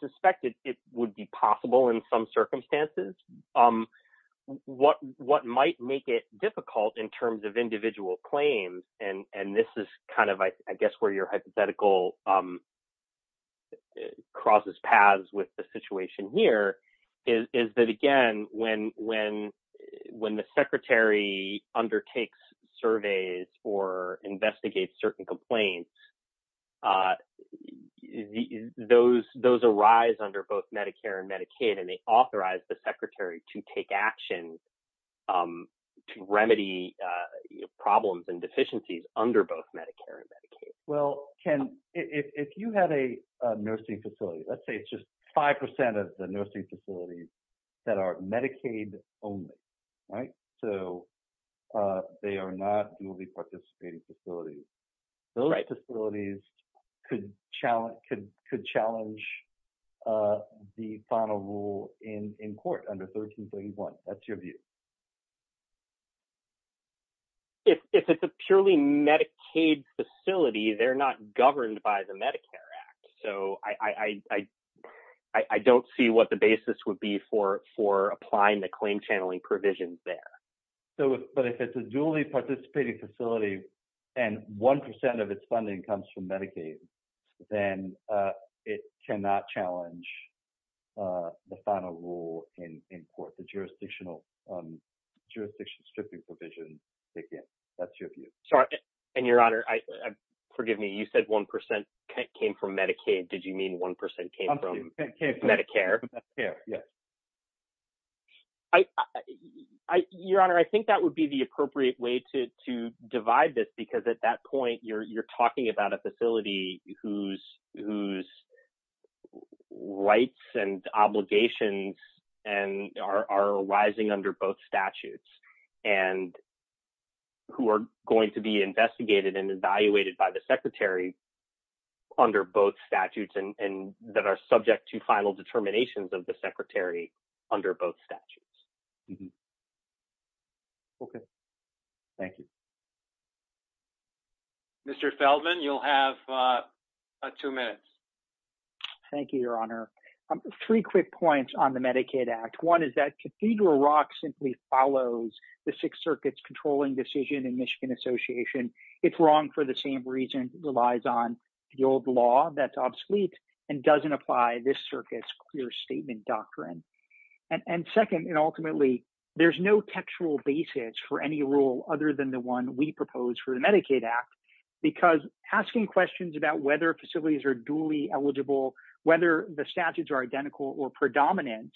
suspect it would be possible in some circumstances. What might make it difficult in terms of individual claims, and this is kind of, I guess, where your hypothetical crosses paths with the situation here, is that, again, when the Secretary undertakes surveys or investigates certain complaints, those arise under both Medicare and Medicaid, and they authorize the Secretary to take action to remedy problems and deficiencies under both Medicare and Medicaid. Well, Ken, if you had a nursing facility, let's say it's just 5% of the nursing facilities that are Medicaid-only, right, so they are not duly-participating facilities, those facilities could challenge the final rule in court under 1331. That's your view. If it's a purely Medicaid facility, they're not governed by the Medicare Act, so I don't see what the basis would be for applying the claim-channeling provisions there. But if it's a duly-participating facility and 1% of its funding comes from Medicaid, then it cannot challenge the final rule in court, the jurisdiction stripping provision, again. That's your view. And, Your Honor, forgive me, you said 1% came from Medicaid. Did you mean 1% came from Medicare? Medicare, yes. Your Honor, I think that would be the appropriate way to divide this, because at that point, you're talking about a facility whose rights and obligations are arising under both statutes, and who are going to be investigated and evaluated by the Secretary under both statutes and that are subject to final determinations of the Secretary under both statutes. Okay. Thank you. Mr. Feldman, you'll have two minutes. Thank you, Your Honor. Three quick points on the Medicaid Act. One is that Cathedral Rock simply follows the Sixth Circuit's controlling decision in Michigan Association. It's wrong for the same reason it relies on the old law that's obsolete and doesn't apply this circuit's clear statement doctrine. And second, and ultimately, there's no textual basis for any rule other than the one we propose for the Medicaid Act, because asking questions about whether facilities are duly eligible, whether the statutes are identical or predominant,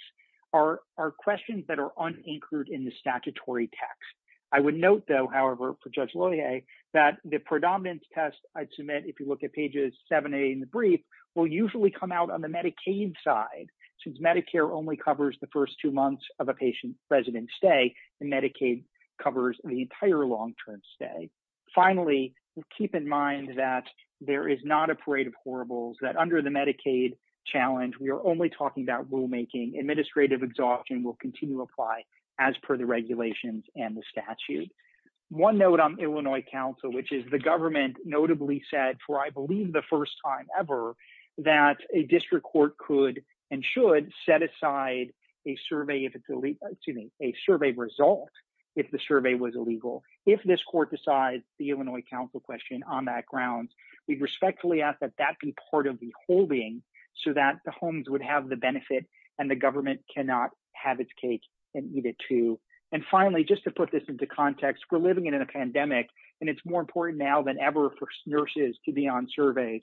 are questions that are unanchored in the statutory text. I would note, though, however, for Judge Loyer, that the predominance test I submit, if you look at pages 7 and 8 in the brief, will usually come out on the Medicaid side, since Medicare only covers the first two months of a patient's resident stay, and Medicaid covers the entire long-term stay. Finally, keep in mind that there is not a parade of horribles, that under the Medicaid challenge, we are only talking about rulemaking. Administrative exhaustion will continue to apply as per the regulations and the statute. One note on Illinois Council, which is the government notably said, for I believe the first time ever, that a district court could and should set aside a survey result if the survey was illegal. If this court decides the Illinois Council question on that grounds, we respectfully ask that that be part of the holding so that the homes would have the benefit and the government cannot have its cake and eat it too. And finally, just to put this into context, we're living in a pandemic, and it's more important now than ever for nurses to be on surveys.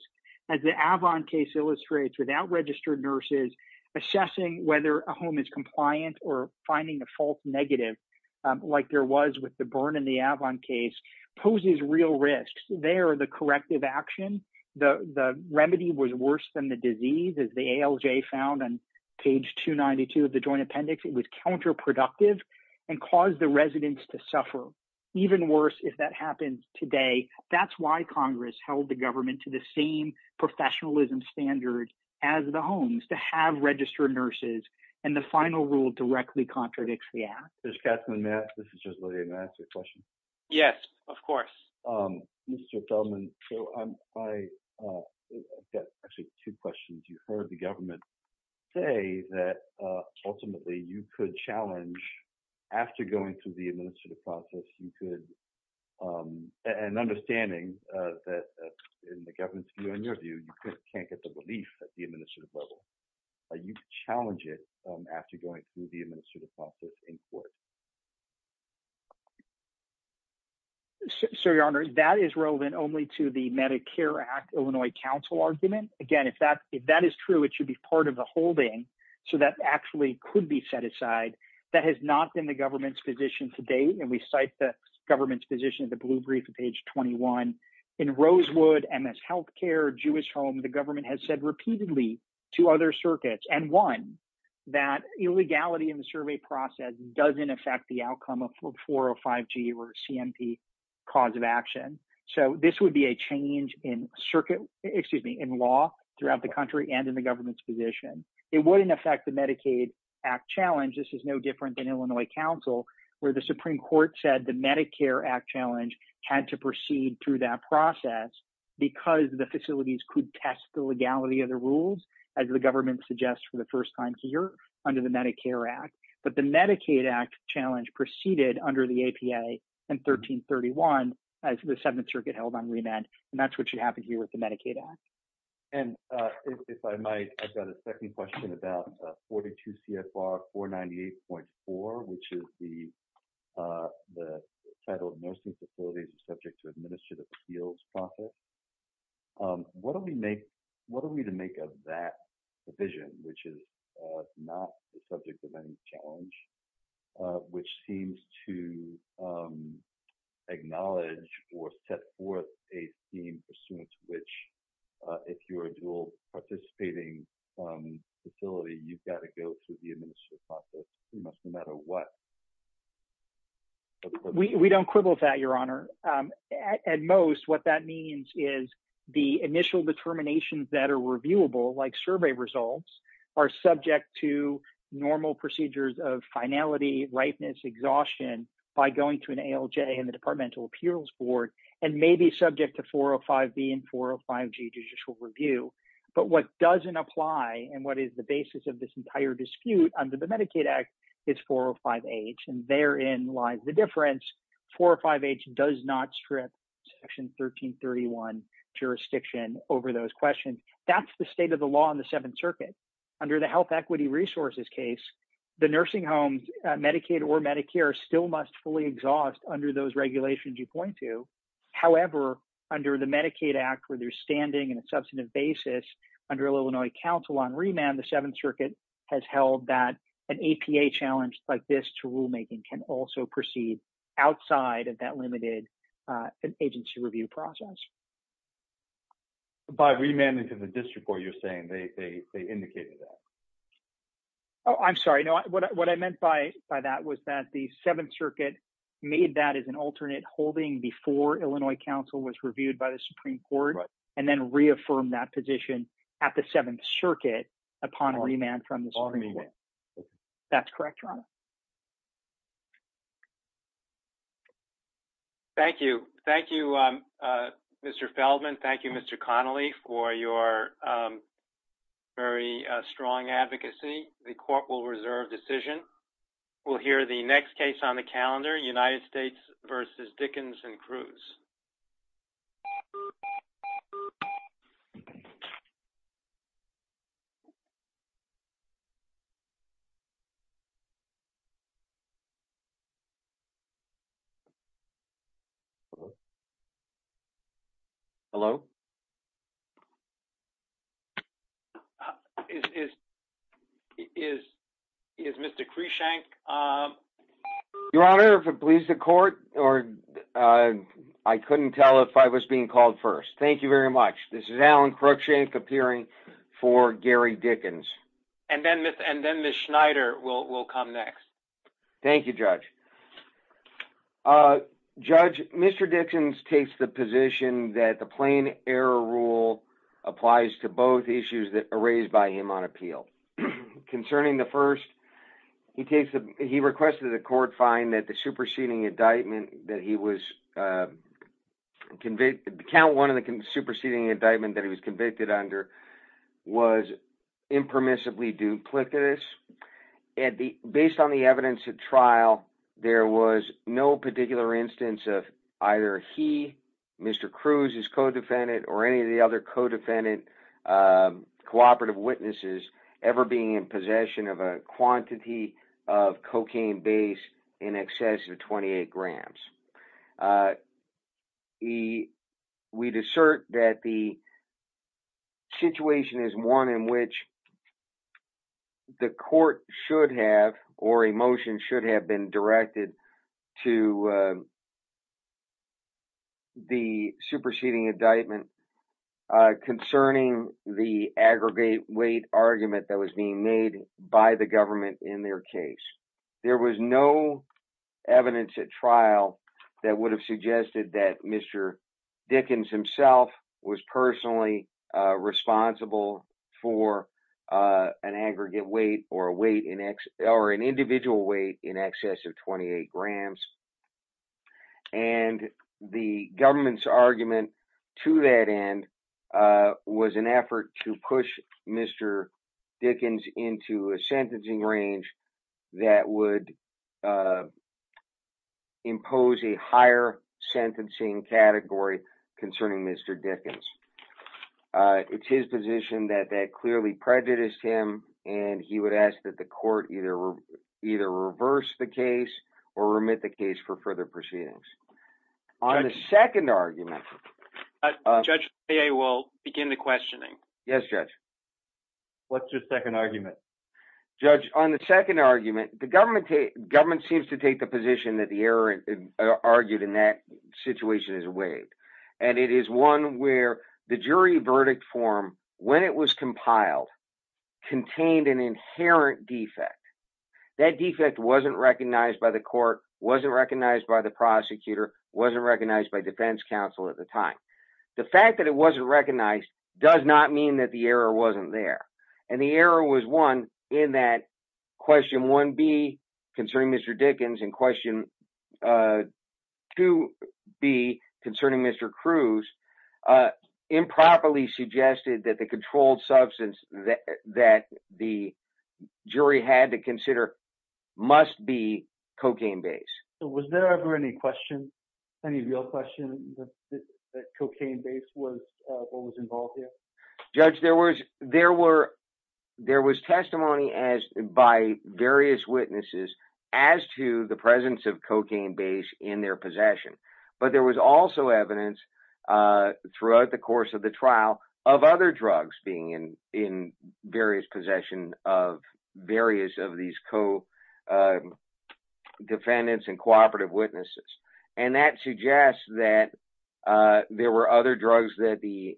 As the Avon case illustrates, without registered nurses, assessing whether a home is compliant or finding a false negative, like there was with the Byrne and the Avon case, poses real risks. There, the corrective action, the remedy was worse than the disease, as the ALJ found on page 292 of the Joint Appendix. It was counterproductive and caused the residents to suffer. Even worse, if that happens today, that's why Congress held the government to the same professionalism standard as the homes, to have registered nurses. And the final rule directly contradicts the act. Judge Katzman, may I ask a question? Yes, of course. Mr. Feldman, I have two questions. You heard the government say that ultimately you could challenge, after going through the administrative process, an understanding that in the government's view, in your view, you can't get the relief at the administrative level. Are you challenging it after going through the administrative process in court? Sir, Your Honor, that is relevant only to the Medicare Act, Illinois Council argument. Again, if that is true, it should be part of the holding, so that actually could be set aside. That has not been the government's position to date, and we cite the government's position in the blue brief on page 21. In Rosewood, MS Healthcare, Jewish Home, the government has said repeatedly to other circuits, and one, that illegality in the survey process doesn't affect the outcome of 405G or CMP cause of action. So this would be a change in circuit, excuse me, in law throughout the country and in the government's position. It wouldn't affect the Medicaid Act challenge. This is no different than Illinois Council, where the Supreme Court said the Medicare Act challenge had to proceed through that process, because the facilities could test the legality of the rules, as the government suggests for the first time here under the Medicare Act. But the Medicaid Act challenge proceeded under the APA in 1331, as the Seventh Circuit held on remand, and that's what should happen here with the Medicaid Act. And if I might, I've got a second question about 42 CFR 498.4, which is the title of nursing facilities subject to administrative appeals process. What are we to make of that provision, which is not the subject of any challenge, which seems to acknowledge or set forth a theme as soon as which, if you are a dual participating facility, you've got to go through the administrative process, no matter what? We don't quibble with that, Your Honor. At most, what that means is the initial determinations that are reviewable, like survey results, are subject to normal procedures of finality, ripeness, exhaustion, by going to an ALJ and the Departmental Appeals Board, and may be subject to 405B and 405G judicial review. But what doesn't apply and what is the basis of this entire dispute under the Medicaid Act is 405H, and therein lies the difference. 405H does not strip Section 1331 jurisdiction over those questions. That's the state of the law in the Seventh Circuit. Under the health equity resources case, the nursing homes, Medicaid or Medicare, still must fully exhaust under those regulations you point to. However, under the Medicaid Act, where they're standing in a substantive basis, under Illinois Council on Remand, the Seventh Circuit has held that an APA challenge like this to rulemaking can also proceed outside of that limited agency review process. By remanding to the district court, you're saying they indicated that? Oh, I'm sorry. No, what I meant by that was that the Seventh Circuit made that as an alternate holding before Illinois Council was reviewed by the Supreme Court, and then reaffirmed that position at the Seventh Circuit upon remand from the Supreme Court. That's correct, Ron? Thank you. Thank you, Mr. Feldman. Thank you, Mr. Connolly, for your very strong advocacy. The court will reserve decision. We'll hear the next case on the calendar, United States v. Dickens and Cruz. Hello? Is Mr. Crushank? Your Honor, if it pleases the court, I couldn't tell if I was being called first. Thank you very much. This is Alan Crushank appearing for Gary Dickens. And then Ms. Schneider will come next. Thank you, Judge. Judge, Mr. Dickens takes the position that the plain error rule applies to both issues raised by him on appeal. Concerning the first, he requested that the court find that the superseding indictment that he was convicted under was impermissibly duplicitous. Based on the evidence of trial, there was no particular instance of either he, Mr. Cruz, his co-defendant, or any of the other co-defendant cooperative witnesses ever being in possession of a quantity of cocaine based in excess of 28 grams. We'd assert that the situation is one in which the court should have, or a motion should have, been directed to the superseding indictment concerning the aggregate weight argument that was being made by the government in their case. There was no evidence at trial that would have suggested that Mr. Dickens himself was personally responsible for an aggregate weight or an individual weight in excess of 28 grams. And the government's argument to that end was an effort to push Mr. Dickens into a sentencing range that would impose a higher sentencing category concerning Mr. Dickens. It's his position that that clearly prejudiced him, and he would ask that the court either reverse the case or remit the case for further proceedings. On the second argument... Judge, I will begin the questioning. Yes, Judge. What's your second argument? Judge, on the second argument, the government seems to take the position that the error argued in that situation is weighed. And it is one where the jury verdict form, when it was compiled, contained an inherent defect. That defect wasn't recognized by the court, wasn't recognized by the prosecutor, wasn't recognized by defense counsel at the time. The fact that it wasn't recognized does not mean that the error wasn't there. And the error was, one, in that question 1B concerning Mr. Dickens and question 2B concerning Mr. Cruz improperly suggested that the controlled substance that the jury had to consider must be cocaine-based. Was there ever any question, any real question, that cocaine-based was involved here? Judge, there was testimony by various witnesses as to the presence of cocaine-based in their possession. But there was also evidence throughout the course of the trial of other drugs being in various possessions of various of these co-defendants and cooperative witnesses. And that suggests that there were other drugs that the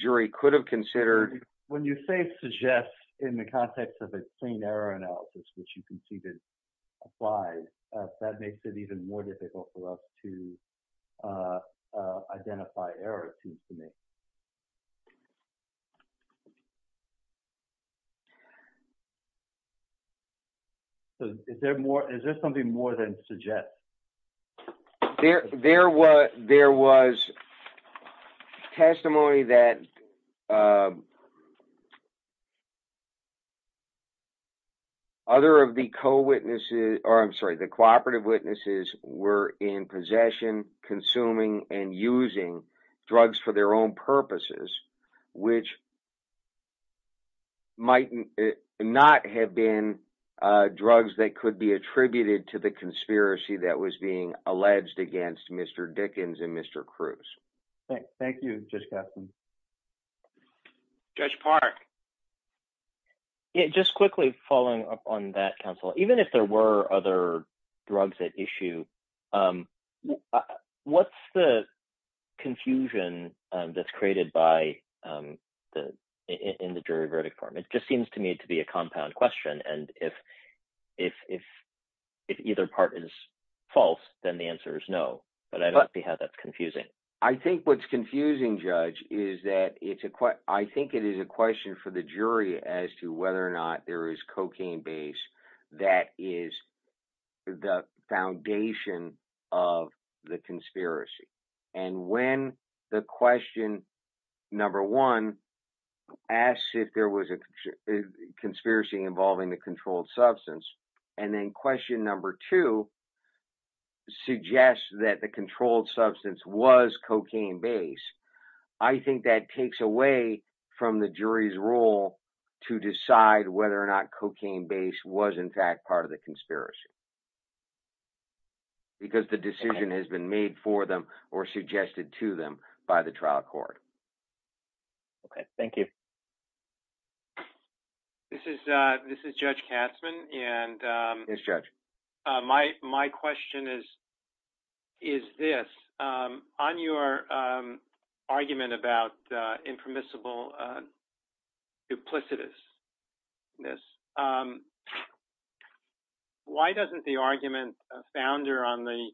jury could have considered. When you say suggest in the context of a clean error analysis, which you conceded applies, that makes it even more difficult for us to identify error, it seems to me. Is there something more than suggest? There was testimony that other of the co-witnesses, I'm sorry, the cooperative witnesses were in possession, consuming and using drugs for their own purposes, which might not have been drugs that could be attributed to the conspiracy that was being alleged against Mr. Dickens and Mr. Cruz. Thank you, Judge Gaston. Judge Park. Just quickly following up on that, counsel, even if there were other drugs at issue, what's the confusion that's created in the jury verdict form? It just seems to me to be a compound question, and if either part is false, then the answer is no. But I don't see how that's confusing. I think what's confusing, Judge, is that I think it is a question for the jury as to whether or not there is cocaine base that is the foundation of the conspiracy. And when the question number one asks if there was a conspiracy involving the controlled substance, and then question number two suggests that the controlled substance was cocaine base, I think that takes away from the jury's role to decide whether or not cocaine base was in fact part of the conspiracy. Because the decision has been made for them or suggested to them by the trial court. OK, thank you. This is Judge Katzmann. Yes, Judge. My question is this. On your argument about the impermissible duplicitousness, why doesn't the argument founder on the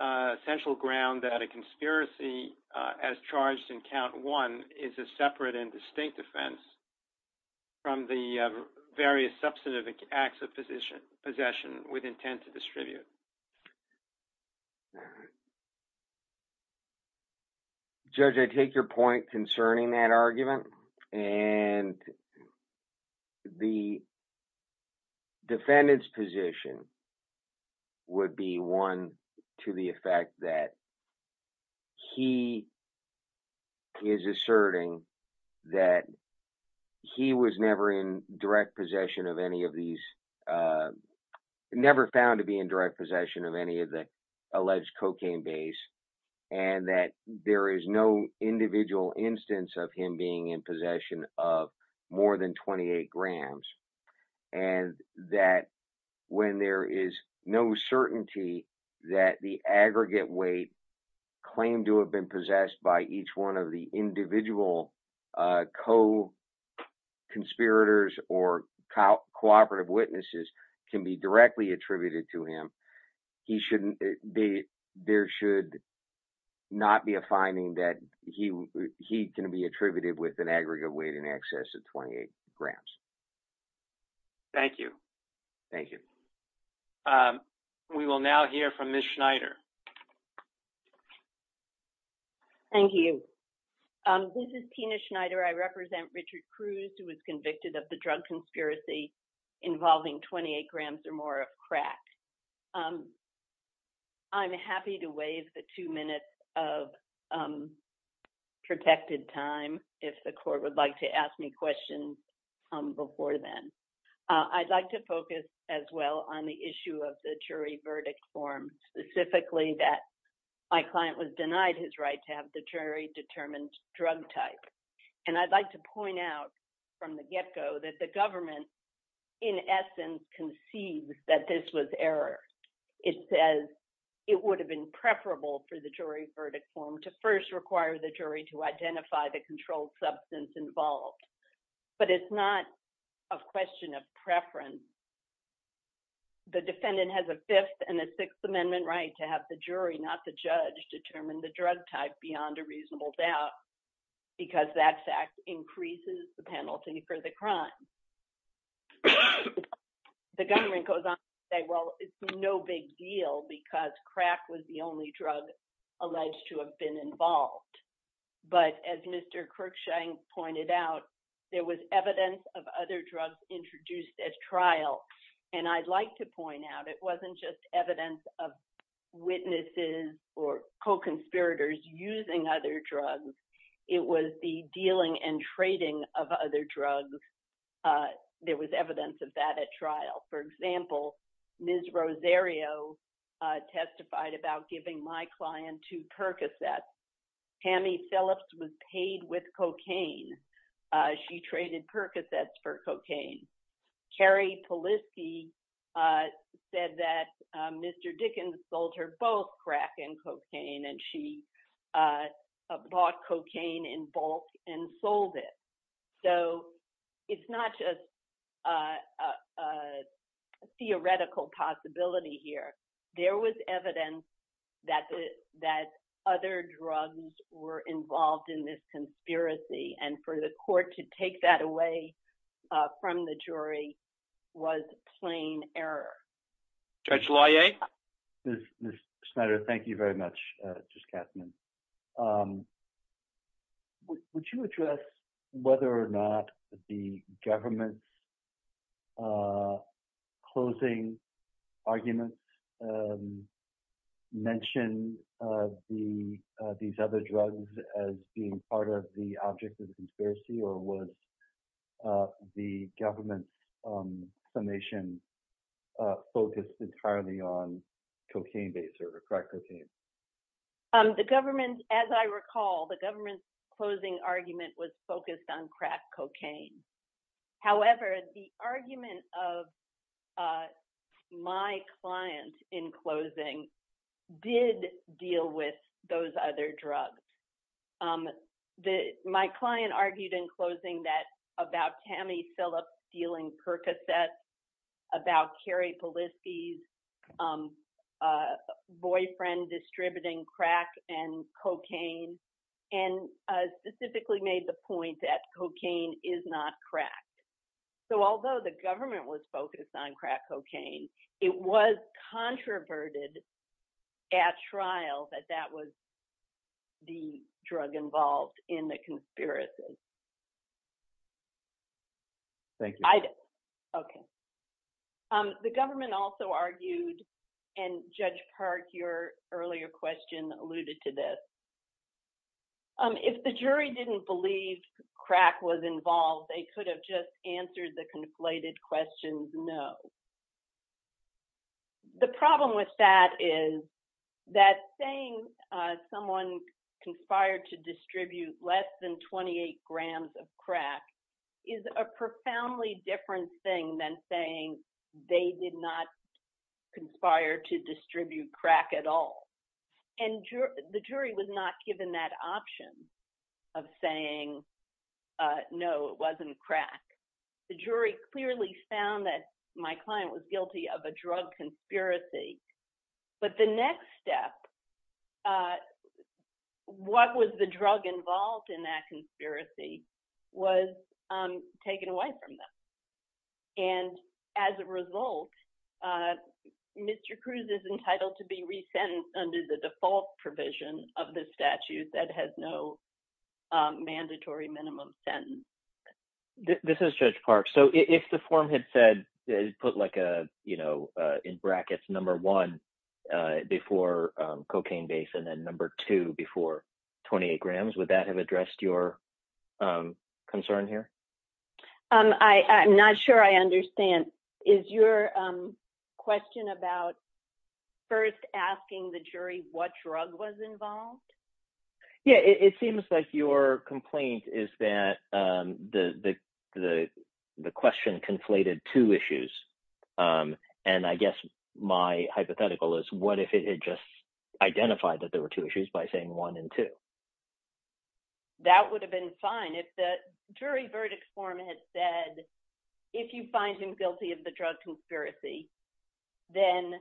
essential ground that a conspiracy as charged in count one is a separate and distinct offense from the various substantive acts of possession with intent to distribute? Judge, I take your point concerning that argument, and the defendant's position would be one to the effect that he is asserting that he was never in direct possession of any of these, never found to be in direct possession of any of the alleged cocaine bases. And that there is no individual instance of him being in possession of more than 28 grams and that when there is no certainty that the aggregate weight claimed to have been possessed by each one of the individual co-conspirators or cooperative witnesses can be directly attributed to him. There should not be a finding that he can be attributed with an aggregate weight in excess of 28 grams. Thank you. Thank you. We will now hear from Ms. Schneider. Thank you. This is Tina Schneider. I represent Richard Cruz who was convicted of the drug conspiracy involving 28 grams or more of crack. I'm happy to waive the two minutes of protected time if the court would like to ask me questions before then. I'd like to focus as well on the issue of the jury verdict form, specifically that my client was denied his right to have the jury determine drug type. And I'd like to point out from the get-go that the government, in essence, concedes that this was error. It says it would have been preferable for the jury verdict form to first require the jury to identify the controlled substance involved. But it's not a question of preference. The defendant has a Fifth and a Sixth Amendment right to have the jury, not the judge, determine the drug type beyond a reasonable doubt because that fact increases the penalty for the crime. The government goes on to say, well, it's no big deal because crack was the only drug alleged to have been involved. But as Mr. Kirkshank pointed out, there was evidence of other drugs introduced at trial. And I'd like to point out it wasn't just evidence of witnesses or co-conspirators using other drugs. It was the dealing and trading of other drugs. For example, Ms. Rosario testified about giving my client two Percocets. Tammy Phillips was paid with cocaine. She traded Percocets for cocaine. Carrie Polisky said that Mr. Dickens sold her both crack and cocaine, and she bought cocaine in bulk and sold it. So it's not just a theoretical possibility here. There was evidence that other drugs were involved in this conspiracy. And for the court to take that away from the jury was plain error. Judge Laillet? Ms. Schneider, thank you very much, Judge Kastner. Would you address whether or not the government's closing arguments mention these other drugs as being part of the object of the conspiracy? Or was the government's summation focused entirely on cocaine-based or crack cocaine? The government, as I recall, the government's closing argument was focused on crack cocaine. However, the argument of my client in closing did deal with those other drugs. My client argued in closing that about Tammy Phillips stealing Percocets, about Carrie Polisky's boyfriend distributing crack and cocaine, and specifically made the point that cocaine is not crack. So although the government was focused on crack cocaine, it was controverted at trial that that was the drug involved in the conspiracy. Thank you. Okay. The government also argued, and Judge Park, your earlier question alluded to this. If the jury didn't believe crack was involved, they could have just answered the conflated questions no. The problem with that is that saying someone conspired to distribute less than 28 grams of crack is a profoundly different thing than saying they did not conspire to distribute crack at all. And the jury was not given that option of saying no, it wasn't crack. The jury clearly found that my client was guilty of a drug conspiracy. But the next step, what was the drug involved in that conspiracy, was taken away from them. And as a result, Mr. Cruz is entitled to be resentenced under the default provision of the statute that has no mandatory minimum sentence. This is Judge Park. So if the form had said, put like a, you know, in brackets, number one before cocaine base and then number two before 28 grams, would that have addressed your concern here? I'm not sure I understand. Is your question about first asking the jury what drug was involved? Yeah, it seems like your complaint is that the question conflated two issues. And I guess my hypothetical is what if it had just identified that there were two issues by saying one and two? That would have been fine if the jury verdict form had said, if you find him guilty of the drug conspiracy, then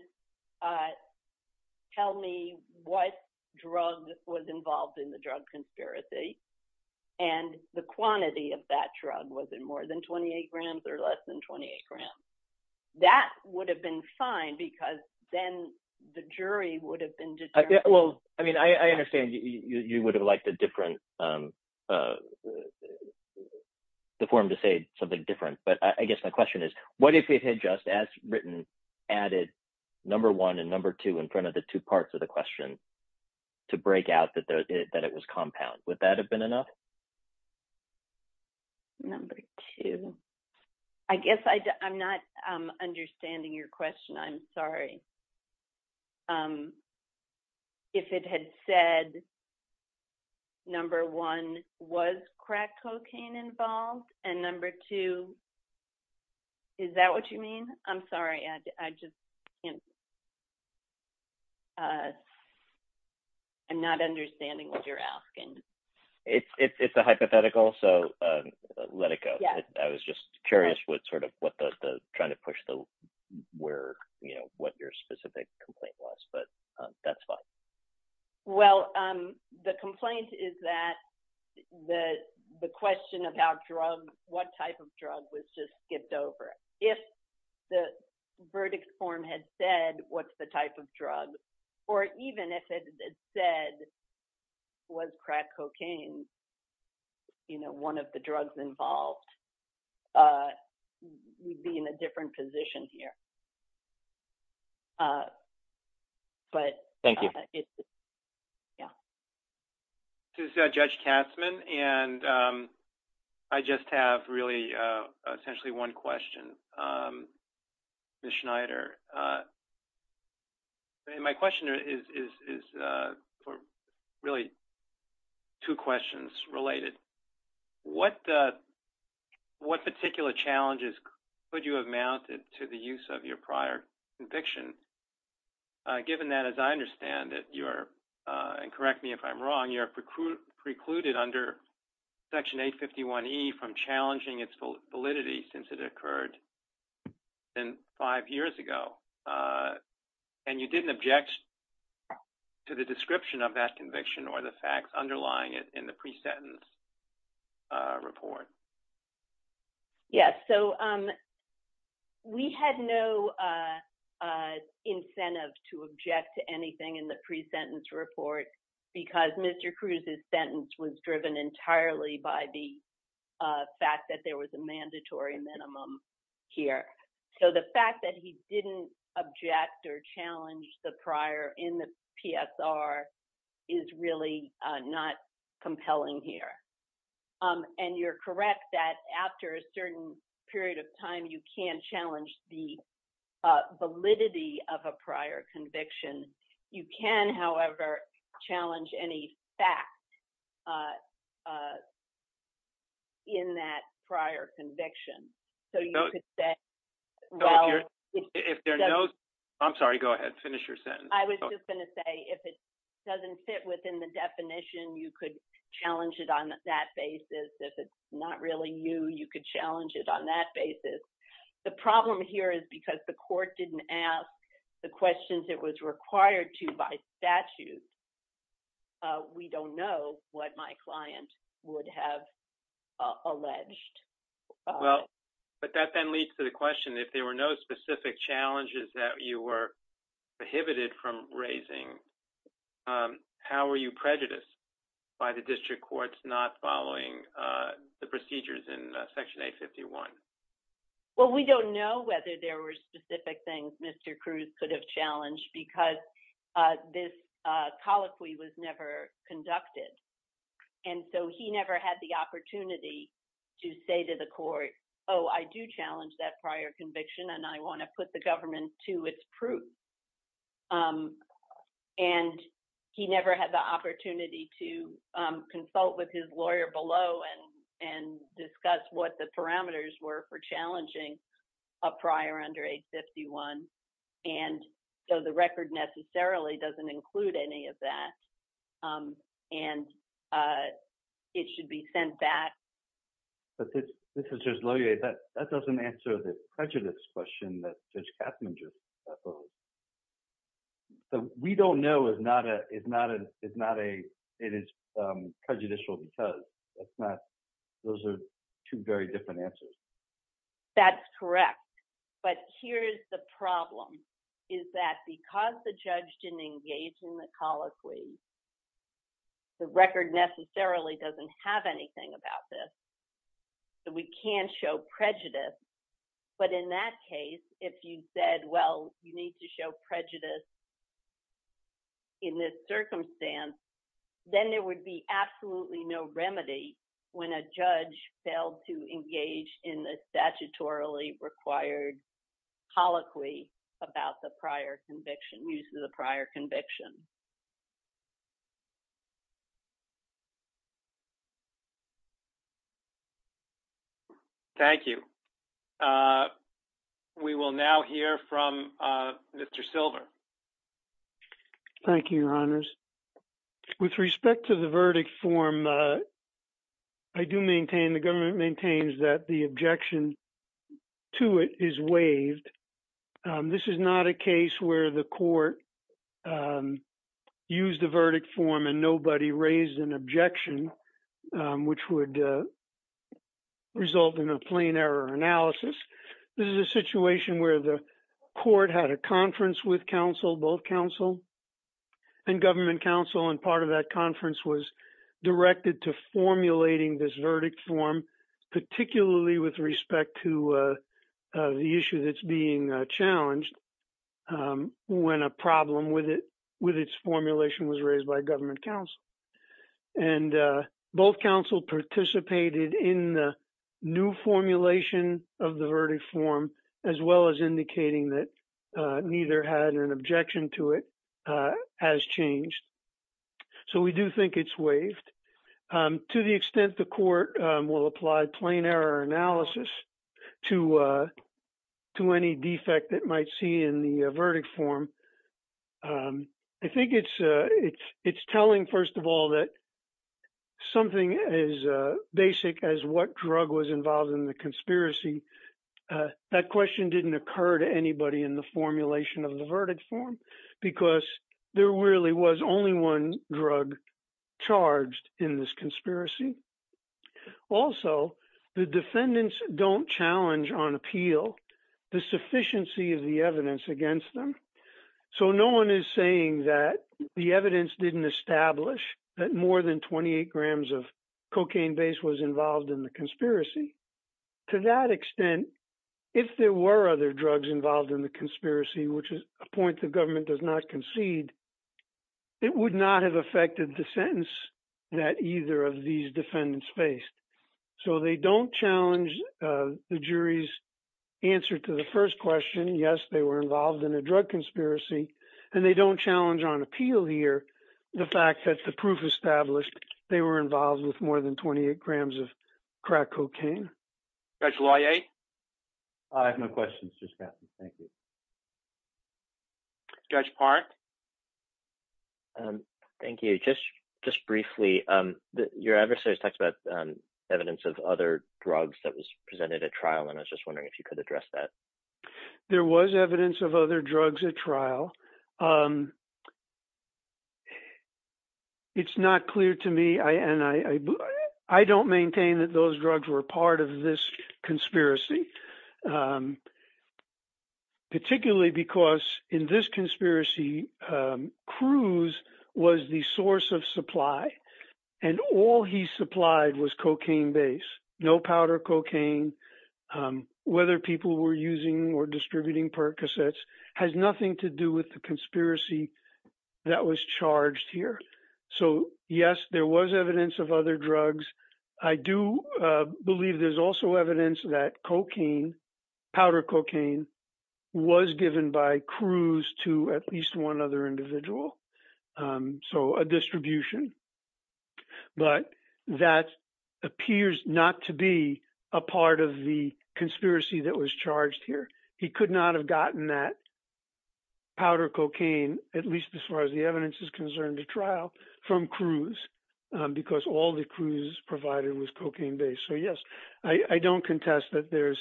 tell me what drug was involved in the drug conspiracy. And the quantity of that drug was in more than 28 grams or less than 28 grams. That would have been fine because then the jury would have been determined. Well, I mean, I understand you would have liked a different form to say something different. But I guess my question is, what if we had just as written added number one and number two in front of the two parts of the question to break out that it was compound? Would that have been enough? Number two. I guess I'm not understanding your question. I'm sorry. If it had said number one was crack cocaine involved and number two. Is that what you mean? I'm sorry. I just. I'm not understanding what you're asking. It's a hypothetical, so let it go. I was just curious what sort of what the trying to push the where what your specific complaint was, but that's fine. Well, the complaint is that the question about drug, what type of drug was just skipped over if the verdict form had said, what's the type of drug? Or even if it said was crack cocaine. You know, one of the drugs involved would be in a different position here. But thank you. Yeah. Judge Katzmann, and I just have really essentially one question. Schneider. My question is for really two questions related. What what particular challenges could you have mounted to the use of your prior conviction? Given that, as I understand it, you're and correct me if I'm wrong, you're precluded under section 851 E from challenging its validity since it occurred. And five years ago, and you didn't object to the description of that conviction or the facts underlying it in the pre sentence report. Yes, so we had no incentive to object to anything in the pre sentence report because Mr. Cruz's sentence was driven entirely by the fact that there was a mandatory minimum here. So, the fact that he didn't object or challenge the prior in the is really not compelling here. And you're correct that after a certain period of time, you can challenge the validity of a prior conviction. You can, however, challenge any fact in that prior conviction. So, you could say, well, if there's no, I'm sorry, go ahead. Finish your sentence. I was just going to say, if it doesn't fit within the definition, you could challenge it on that basis. If it's not really you, you could challenge it on that basis. The problem here is because the court didn't ask the questions it was required to by statute. We don't know what my client would have alleged. Well, but that then leads to the question. If there were no specific challenges that you were prohibited from raising, how are you prejudiced by the district courts not following the procedures in Section 851? Well, we don't know whether there were specific things Mr. Cruz could have challenged because this colloquy was never conducted. And so, he never had the opportunity to say to the court, oh, I do challenge that prior conviction and I want to put the government to its proof. And he never had the opportunity to consult with his lawyer below and discuss what the parameters were for challenging a prior under 851. And so, the record necessarily doesn't include any of that. And it should be sent back. This is Judge Loyer. That doesn't answer the prejudice question that Judge Katzinger posed. So, we don't know if it's prejudicial because. Those are two very different answers. That's correct. But here's the problem is that because the judge didn't engage in the colloquy, the record necessarily doesn't have anything about this. So, we can show prejudice. But in that case, if you said, well, you need to show prejudice in this circumstance, then there would be absolutely no remedy when a judge failed to engage in the statutorily required colloquy about the prior conviction, use of the prior conviction. Thank you. We will now hear from Mr. Silver. Thank you, Your Honors. With respect to the verdict form, I do maintain the government maintains that the objection to it is waived. This is not a case where the court used the verdict form and nobody raised an objection, which would result in a plain error analysis. This is a situation where the court had a conference with counsel, both counsel and government counsel, and part of that conference was directed to formulating this verdict form, particularly with respect to the issue that's being challenged when a problem with its formulation was raised by government counsel. And both counsel participated in the new formulation of the verdict form, as well as indicating that neither had an objection to it as changed. So, we do think it's waived to the extent the court will apply plain error analysis to to any defect that might see in the verdict form. I think it's telling, first of all, that something as basic as what drug was involved in the conspiracy, that question didn't occur to anybody in the formulation of the verdict form, because there really was only one drug charged in this conspiracy. Also, the defendants don't challenge on appeal the sufficiency of the evidence against them. So, no one is saying that the evidence didn't establish that more than 28 grams of cocaine base was involved in the conspiracy. To that extent, if there were other drugs involved in the conspiracy, which is a point the government does not concede, it would not have affected the sentence that either of these defendants faced. So, they don't challenge the jury's answer to the first question. Yes, they were involved in a drug conspiracy. And they don't challenge on appeal here the fact that the proof established they were involved with more than 28 grams of crack cocaine. I have no questions. Judge Park. Thank you. Just just briefly, your adversaries talked about evidence of other drugs that was presented at trial, and I was just wondering if you could address that. There was evidence of other drugs at trial. It's not clear to me, and I don't maintain that those drugs were part of this conspiracy. Particularly because in this conspiracy, Cruz was the source of supply, and all he supplied was cocaine base. No powder cocaine, whether people were using or distributing Percocets has nothing to do with the conspiracy that was charged here. So, yes, there was evidence of other drugs. I do believe there's also evidence that cocaine, powder cocaine was given by Cruz to at least one other individual. So, a distribution, but that appears not to be a part of the conspiracy that was charged here. He could not have gotten that powder cocaine, at least as far as the evidence is concerned, to trial from Cruz, because all the Cruz provided was cocaine based. So, yes, I don't contest that there's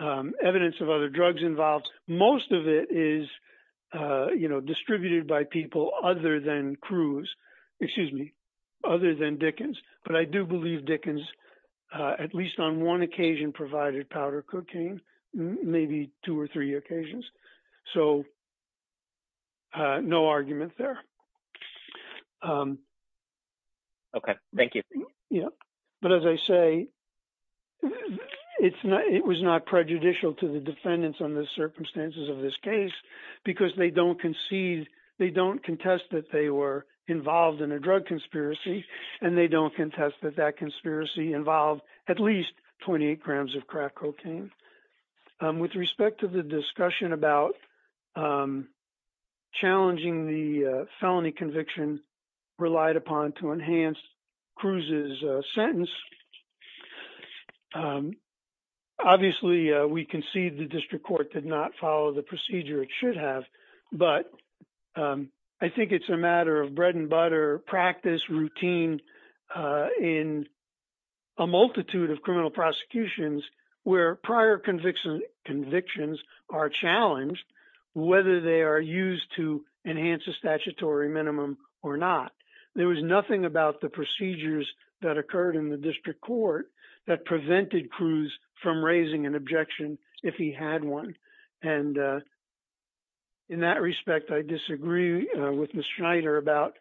evidence of other drugs involved. Most of it is distributed by people other than Cruz, excuse me, other than Dickens. But I do believe Dickens, at least on one occasion, provided powder cocaine, maybe two or three occasions. So, no argument there. Okay, thank you. Yeah, but as I say, it was not prejudicial to the defendants on the circumstances of this case, because they don't concede, they don't contest that they were involved in a drug conspiracy, and they don't contest that that conspiracy involved at least 28 grams of crack cocaine. With respect to the discussion about challenging the felony conviction relied upon to enhance Cruz's sentence. Obviously, we concede the district court did not follow the procedure it should have. But I think it's a matter of bread and butter practice routine in a multitude of criminal prosecutions, where prior convictions are challenged, whether they are used to enhance the statutory minimum or not. There was nothing about the procedures that occurred in the district court that prevented Cruz from raising an objection if he had one. And in that respect, I disagree with Ms. Schneider about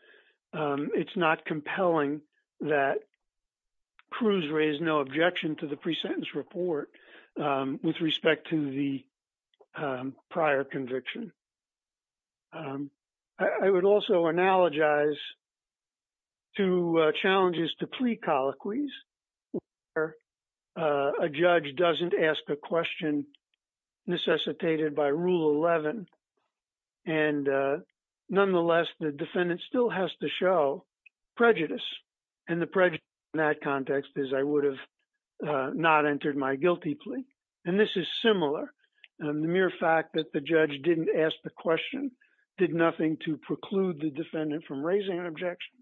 it's not compelling that Cruz raised no objection to the pre-sentence report with respect to the prior conviction. I would also analogize to challenges to plea colloquies, where a judge doesn't ask a question necessitated by Rule 11. And nonetheless, the defendant still has to show prejudice. And the prejudice in that context is I would have not entered my guilty plea. And this is similar. And the mere fact that the judge didn't ask the question did nothing to preclude the defendant from raising an objection.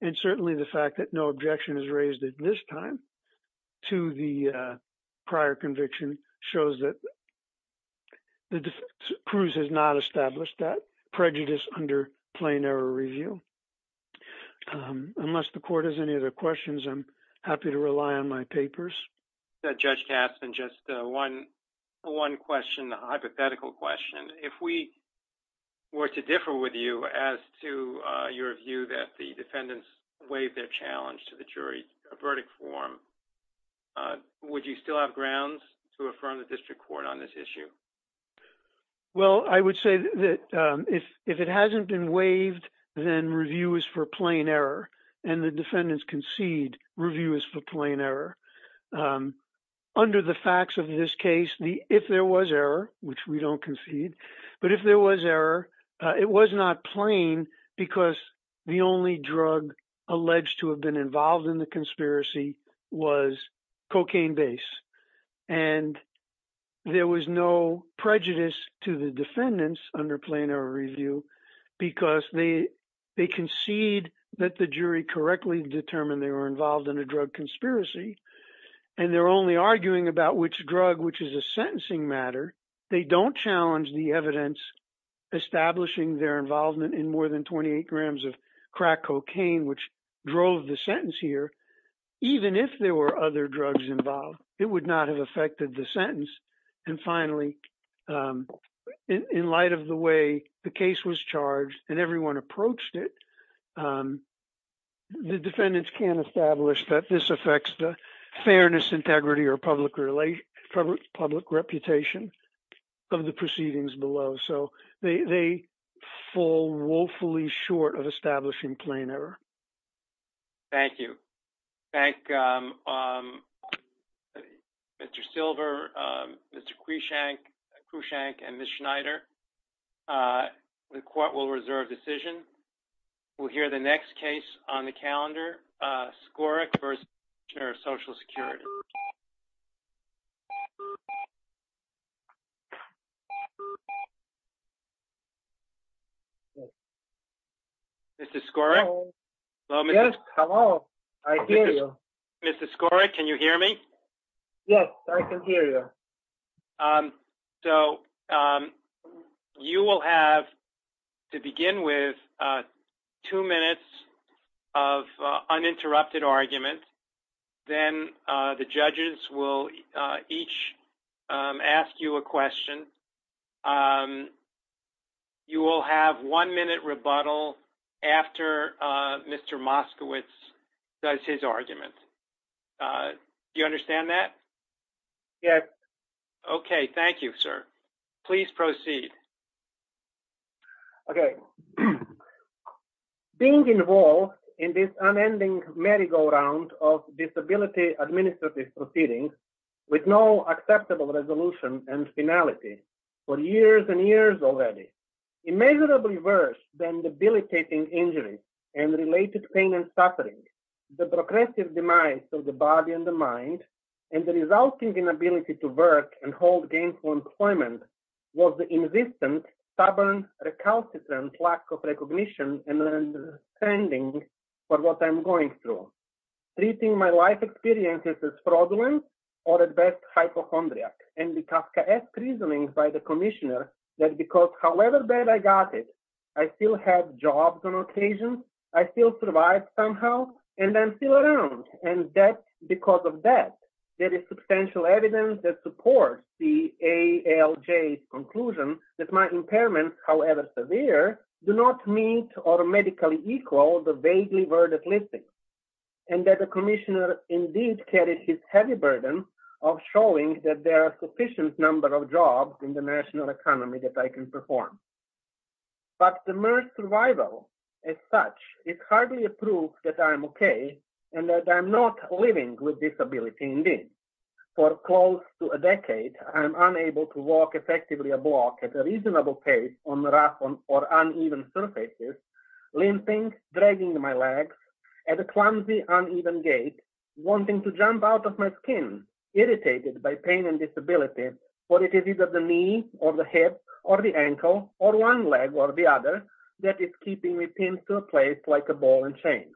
And certainly the fact that no objection is raised at this time to the prior conviction shows that Cruz has not established that prejudice under plain error review. Unless the court has any other questions, I'm happy to rely on my papers. Judge Gaston, just one hypothetical question. If we were to differ with you as to your view that the defendants waived their challenge to the jury verdict form, would you still have grounds to affirm the district court on this issue? Well, I would say that if it hasn't been waived, then review is for plain error. And the defendants concede review is for plain error. Under the facts of this case, if there was error, which we don't concede, but if there was error, it was not plain because the only drug alleged to have been involved in the conspiracy was cocaine-based. And there was no prejudice to the defendants under plain error review because they concede that the jury correctly determined they were involved in a drug conspiracy, and they're only arguing about which drug, which is a sentencing matter. They don't challenge the evidence establishing their involvement in more than 28 grams of crack cocaine, which drove the sentence here. Even if there were other drugs involved, it would not have affected the sentence. And finally, in light of the way the case was charged and everyone approached it, the defendants can establish that this affects the fairness, integrity, or public reputation of the proceedings below. So they fall woefully short of establishing plain error. Thank you. Thank Mr. Silver, Mr. Cushank, and Ms. Schneider. The court will reserve decision. We'll hear the next case on the calendar, Skorik v. Commissioner of Social Security. Mr. Skorik, can you hear me? Yes, I can hear you. So you will have, to begin with, two minutes of uninterrupted argument. Then the judges will each ask you a question. You will have one minute rebuttal after Mr. Moskowitz does his argument. Do you understand that? Yes. Okay. Thank you, sir. Please proceed. Thank you. Thank you. Thank you. Thank you. Thank you. Thank you very much. As such, this currently proves that I'm okay and that I'm not living with disability. Indeed, for close to a decade, I am unable to walk effectively or block at a reasonable pace on rough or uneven surfaces, limping, dragging my legs, at the clumsy, like a ball and chain.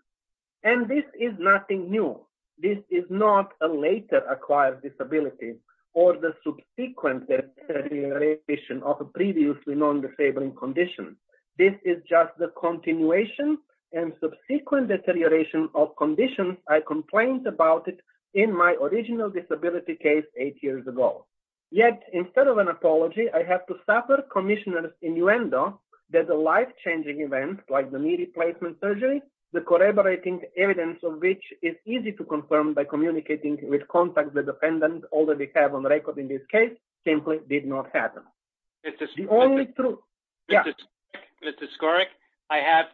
And this is nothing new. This is not a later acquired disability or the subsequent deterioration of a previously known disabling condition. This is just the continuation and subsequent deterioration of conditions I complained about in my original disability case eight years ago. Yet, instead of an apology, I have to suffer commissioners' innuendo that a life-changing event like the knee replacement surgery, the corroborating evidence of which is easy to confirm by communicating with contacts with defendants already have on record in this case, simply did not happen. The only truth. Yeah. Mr. Skorek,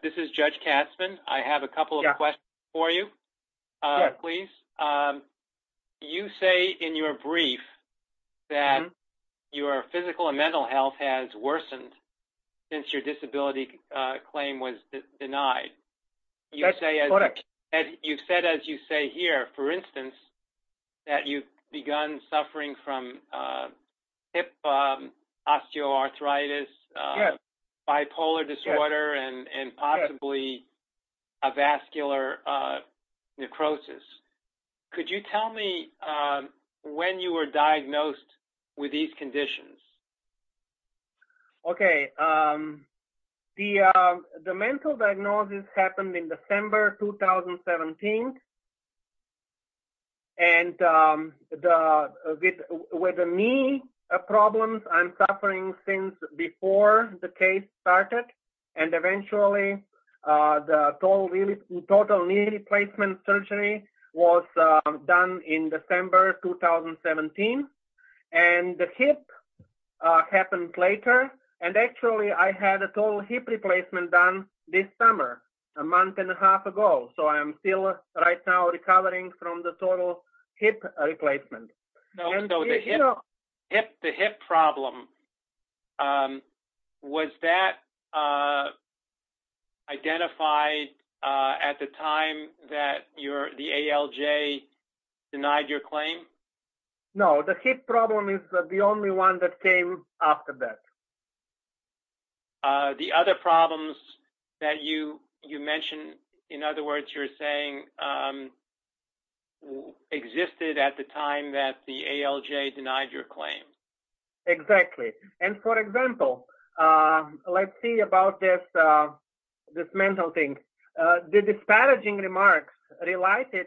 this is Judge Katzmann. I have a couple of questions for you, please. You say in your brief that your physical and mental health has worsened since your disability claim was denied. That's correct. You said, as you say here, for instance, that you've begun suffering from hip osteoarthritis, bipolar disorder, and possibly a vascular necrosis. Could you tell me when you were diagnosed with these conditions? Okay. The mental diagnosis happened in December 2017, and with the knee problems, I'm suffering since before the case started. And eventually, the total knee replacement surgery was done in December 2017. And the hip happened later. And actually, I had a total hip replacement done this summer, a month and a half ago. So I am still right now recovering from the total hip replacement. So the hip problem, was that identified at the time that the ALJ denied your claim? No. The hip problem is the only one that came after that. The other problems that you mentioned, in other words, you're saying existed at the time that the ALJ denied your claim? Exactly. And for example, let's see about this mental thing. The disparaging remarks related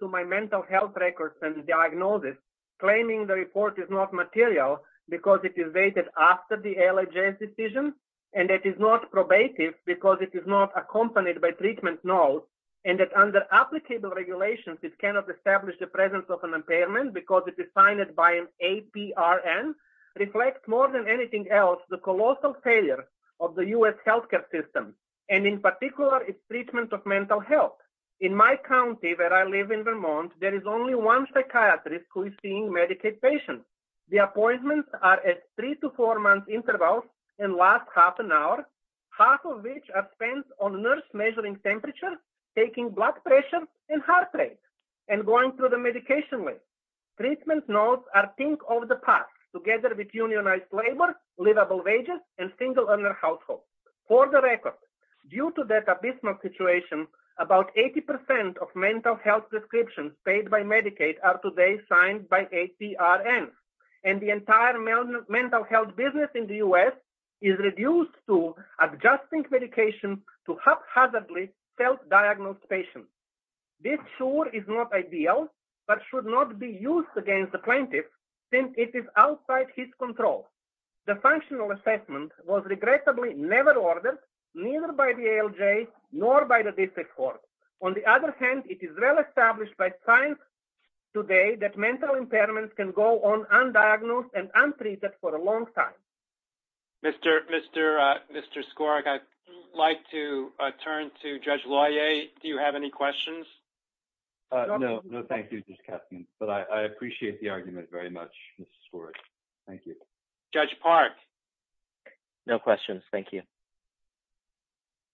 to my mental health records and diagnosis, claiming the report is not material because it is dated after the ALJ's decision, and it is not probative because it is not accompanied by treatment notes, and that under applicable regulations, it cannot establish the presence of an impairment because it is signed by an APRN, the colossal failure of the U.S. healthcare system. And in particular, it's treatment of mental health. In my county, where I live in Vermont, there is only one psychiatrist who is seeing Medicaid patients. The appointments are at three to four-month intervals and last half an hour, half of which are spent on the nurse measuring temperature, taking blood pressure, and heart rate, and going through the medication list. Treatment notes are think of the past, together with unionized labor, livable wages, and single-earner households. For the record, due to that abysmal situation, about 80% of mental health prescriptions paid by Medicaid are today signed by APRN. And the entire mental health business in the U.S. is reduced to adjusting medication to haphazardly self-diagnose patients. This, sure, is not ideal, but should not be used against the plaintiff, since it is outside his control. The functional assessment was regrettably never ordered, neither by the ALJ nor by the district court. On the other hand, it is well established by science today that mental impairments can go on undiagnosed and untreated for a long time. Mr. Skorik, I'd like to turn to Judge Loyer. Do you have any questions? No. No, thank you, Judge Kessling. But I appreciate the argument very much, Mr. Skorik. Thank you. Judge Park? No questions. Thank you.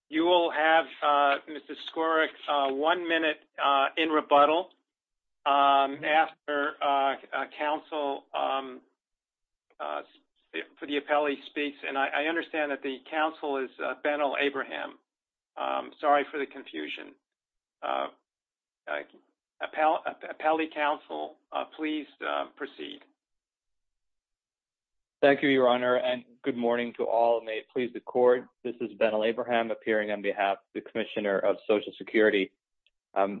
You will have, Mr. Skorik, one minute in rebuttal after counsel for the appellee speaks. And I understand that the counsel is Benno Abraham. Sorry for the confusion. Appellee counsel, please proceed. Thank you, Your Honor. And good morning to all. May it please the Court. This is Benno Abraham, appearing on behalf of the Commissioner of Social Security. Mr.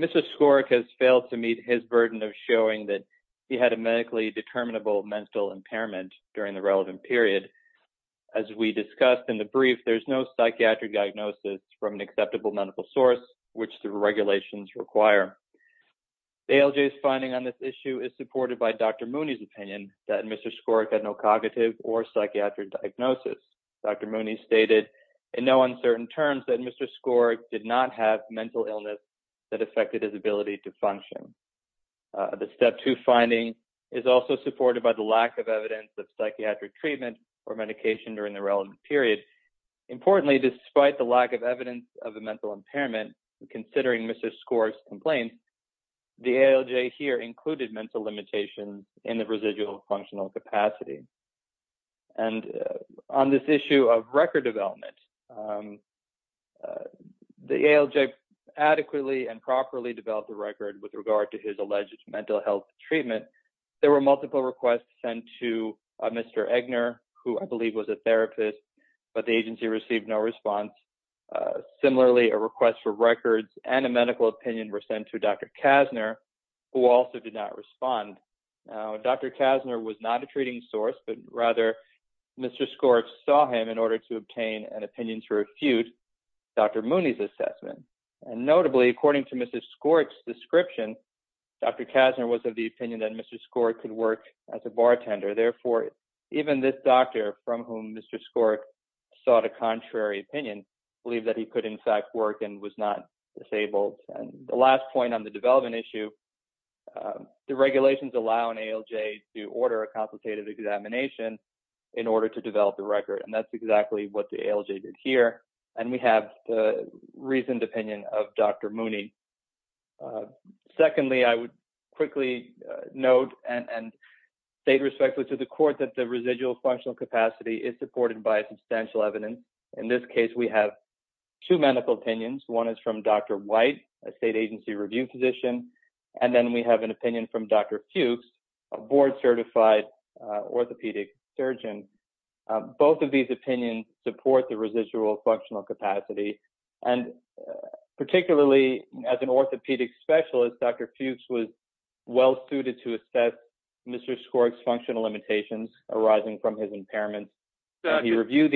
Skorik has failed to meet his burden of showing that he had a medically determinable mental impairment during the relevant period. As we discussed in the brief, there's no psychiatric diagnosis from an acceptable medical source, which the regulations require. ALJ's finding on this issue is supported by Dr. Mooney's opinion that Mr. Skorik had no cognitive or psychiatric diagnosis. Dr. Mooney stated in no uncertain terms that Mr. Skorik did not have mental illness that affected his ability to function. The Step 2 finding is also supported by the lack of evidence of psychiatric treatment or medication during the relevant period. Importantly, despite the lack of evidence of a mental impairment, considering Mr. Skorik's complaints, the ALJ here included mental limitations in the residual functional capacity. And on this issue of record development, the ALJ adequately and properly developed a record with regard to his alleged mental health treatment. There were multiple requests sent to Mr. Eggner, who I believe was a therapist, but the agency received no response. Similarly, a request for records and a medical opinion were sent to Dr. Kassner, who also did not respond. Dr. Kassner was not a treating source, but rather Mr. Skorik saw him in order to obtain an opinion to refute Dr. Mooney's assessment. And notably, according to Mr. Skorik's description, Dr. Kassner was of the opinion that Mr. Skorik could work as a bartender. Therefore, even this doctor, from whom Mr. Skorik sought a contrary opinion, believed that he could in fact work and was not disabled. And the last point on the development issue, the regulations allow an ALJ to order a complicated examination in order to develop a record. And that's exactly what the ALJ did here, and we have the reasoned opinion of Dr. Mooney. Secondly, I would quickly note and state respectfully to the court that the residual functional capacity is supported by substantial evidence. In this case, we have two medical opinions. One is from Dr. White, a state agency review physician, and then we have an opinion from Dr. Fuchs, a board-certified orthopedic surgeon. Both of these opinions support the residual functional capacity. And particularly, as an orthopedic specialist, Dr. Fuchs was well suited to assess Mr. Skorik's functional limitations arising from his impairment. This is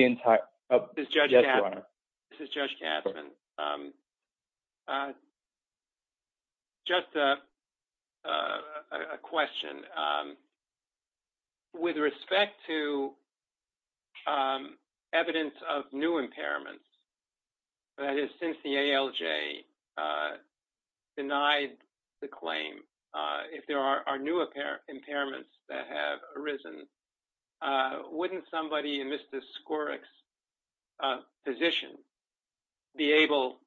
Judge Katzmann. Just a question. With respect to evidence of new impairments, that is, since the ALJ denied the claim, if there are new impairments that have arisen, wouldn't somebody in Mr. Skorik's position be able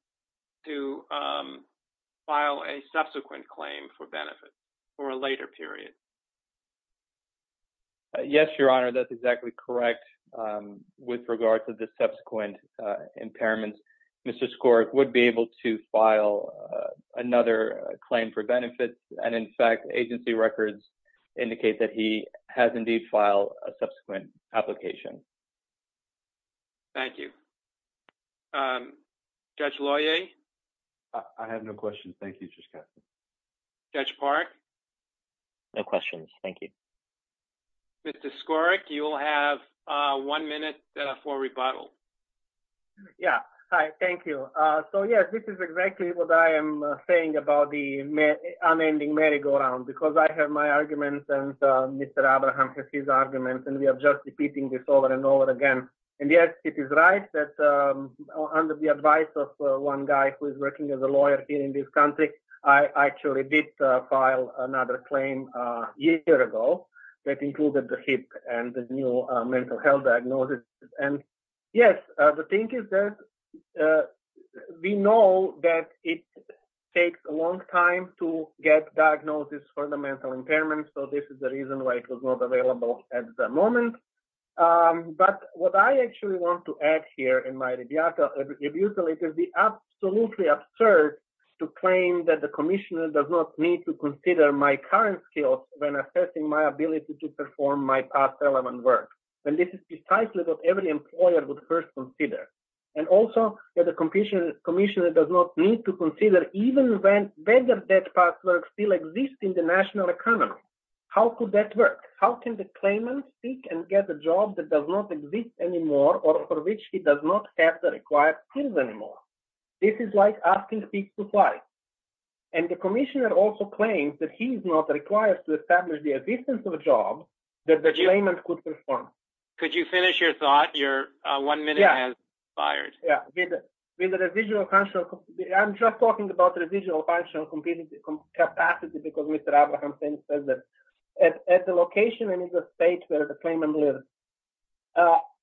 to file a subsequent claim for benefit for a later period? Yes, Your Honor, that's exactly correct. With regard to the subsequent impairments, Mr. Skorik would be able to file another claim for benefit. And in fact, agency records indicate that he has indeed filed a subsequent application. Thank you. Judge Loyer? I have no questions. Thank you, Judge Katzmann. Judge Parikh? No questions. Thank you. Mr. Skorik, you will have one minute for rebuttal. Yeah. Hi. Thank you. So, yes, this is exactly what I am saying about the unending merry-go-round, because I have my arguments and Mr. Abraham has his arguments, and we are just repeating this over and over again. And, yes, it is right that under the advice of one guy who is working as a lawyer here in this country, I actually did file another claim a year ago that included the HIP and the new medical health diagnosis. And, yes, the thing is that we know that it takes a long time to get diagnosis for the mental impairment, so this is the reason why it was not available at the moment. But what I actually want to add here in my rebuttal is it would be absolutely absurd to claim that the commissioner does not need to consider my current skills when assessing my ability to perform my past element work. And this is precisely what every employer would first consider. And also that the commissioner does not need to consider even whether that past work still exists in the national economy. How could that work? How can the claimant seek and get a job that does not exist anymore or for which he does not have the required skills anymore? This is like asking people twice. And the commissioner also claims that he is not required to establish the existence of a job that the claimant could perform. Could you finish your thought? Your one minute has expired. Yes. I'm just talking about the residual functional capacity because Mr. Abrahamson says that at the location in the state where the claimant lives,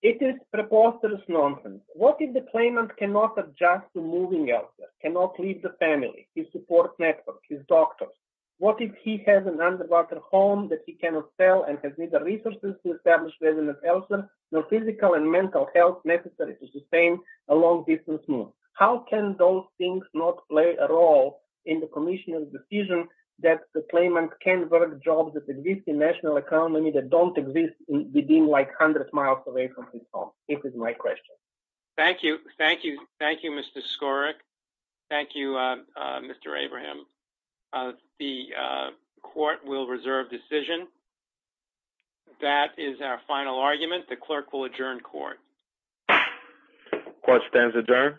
it is preposterous nonsense. What if the claimant cannot adjust to moving elsewhere, cannot leave the family, his support network, his doctors? What if he has an underwater home that he cannot sell and has neither resources to establish resident health nor physical and mental health necessary to sustain a long distance move? How can those things not play a role in the commissioner's decision that the claimant can work jobs that exist in national economy that don't exist within like 100 miles away from his home? This is my question. Thank you. Thank you. Thank you, Mr. Skorek. Thank you, Mr. Abraham. The court will reserve decision. That is our final argument. The clerk will adjourn court. Court stands adjourned.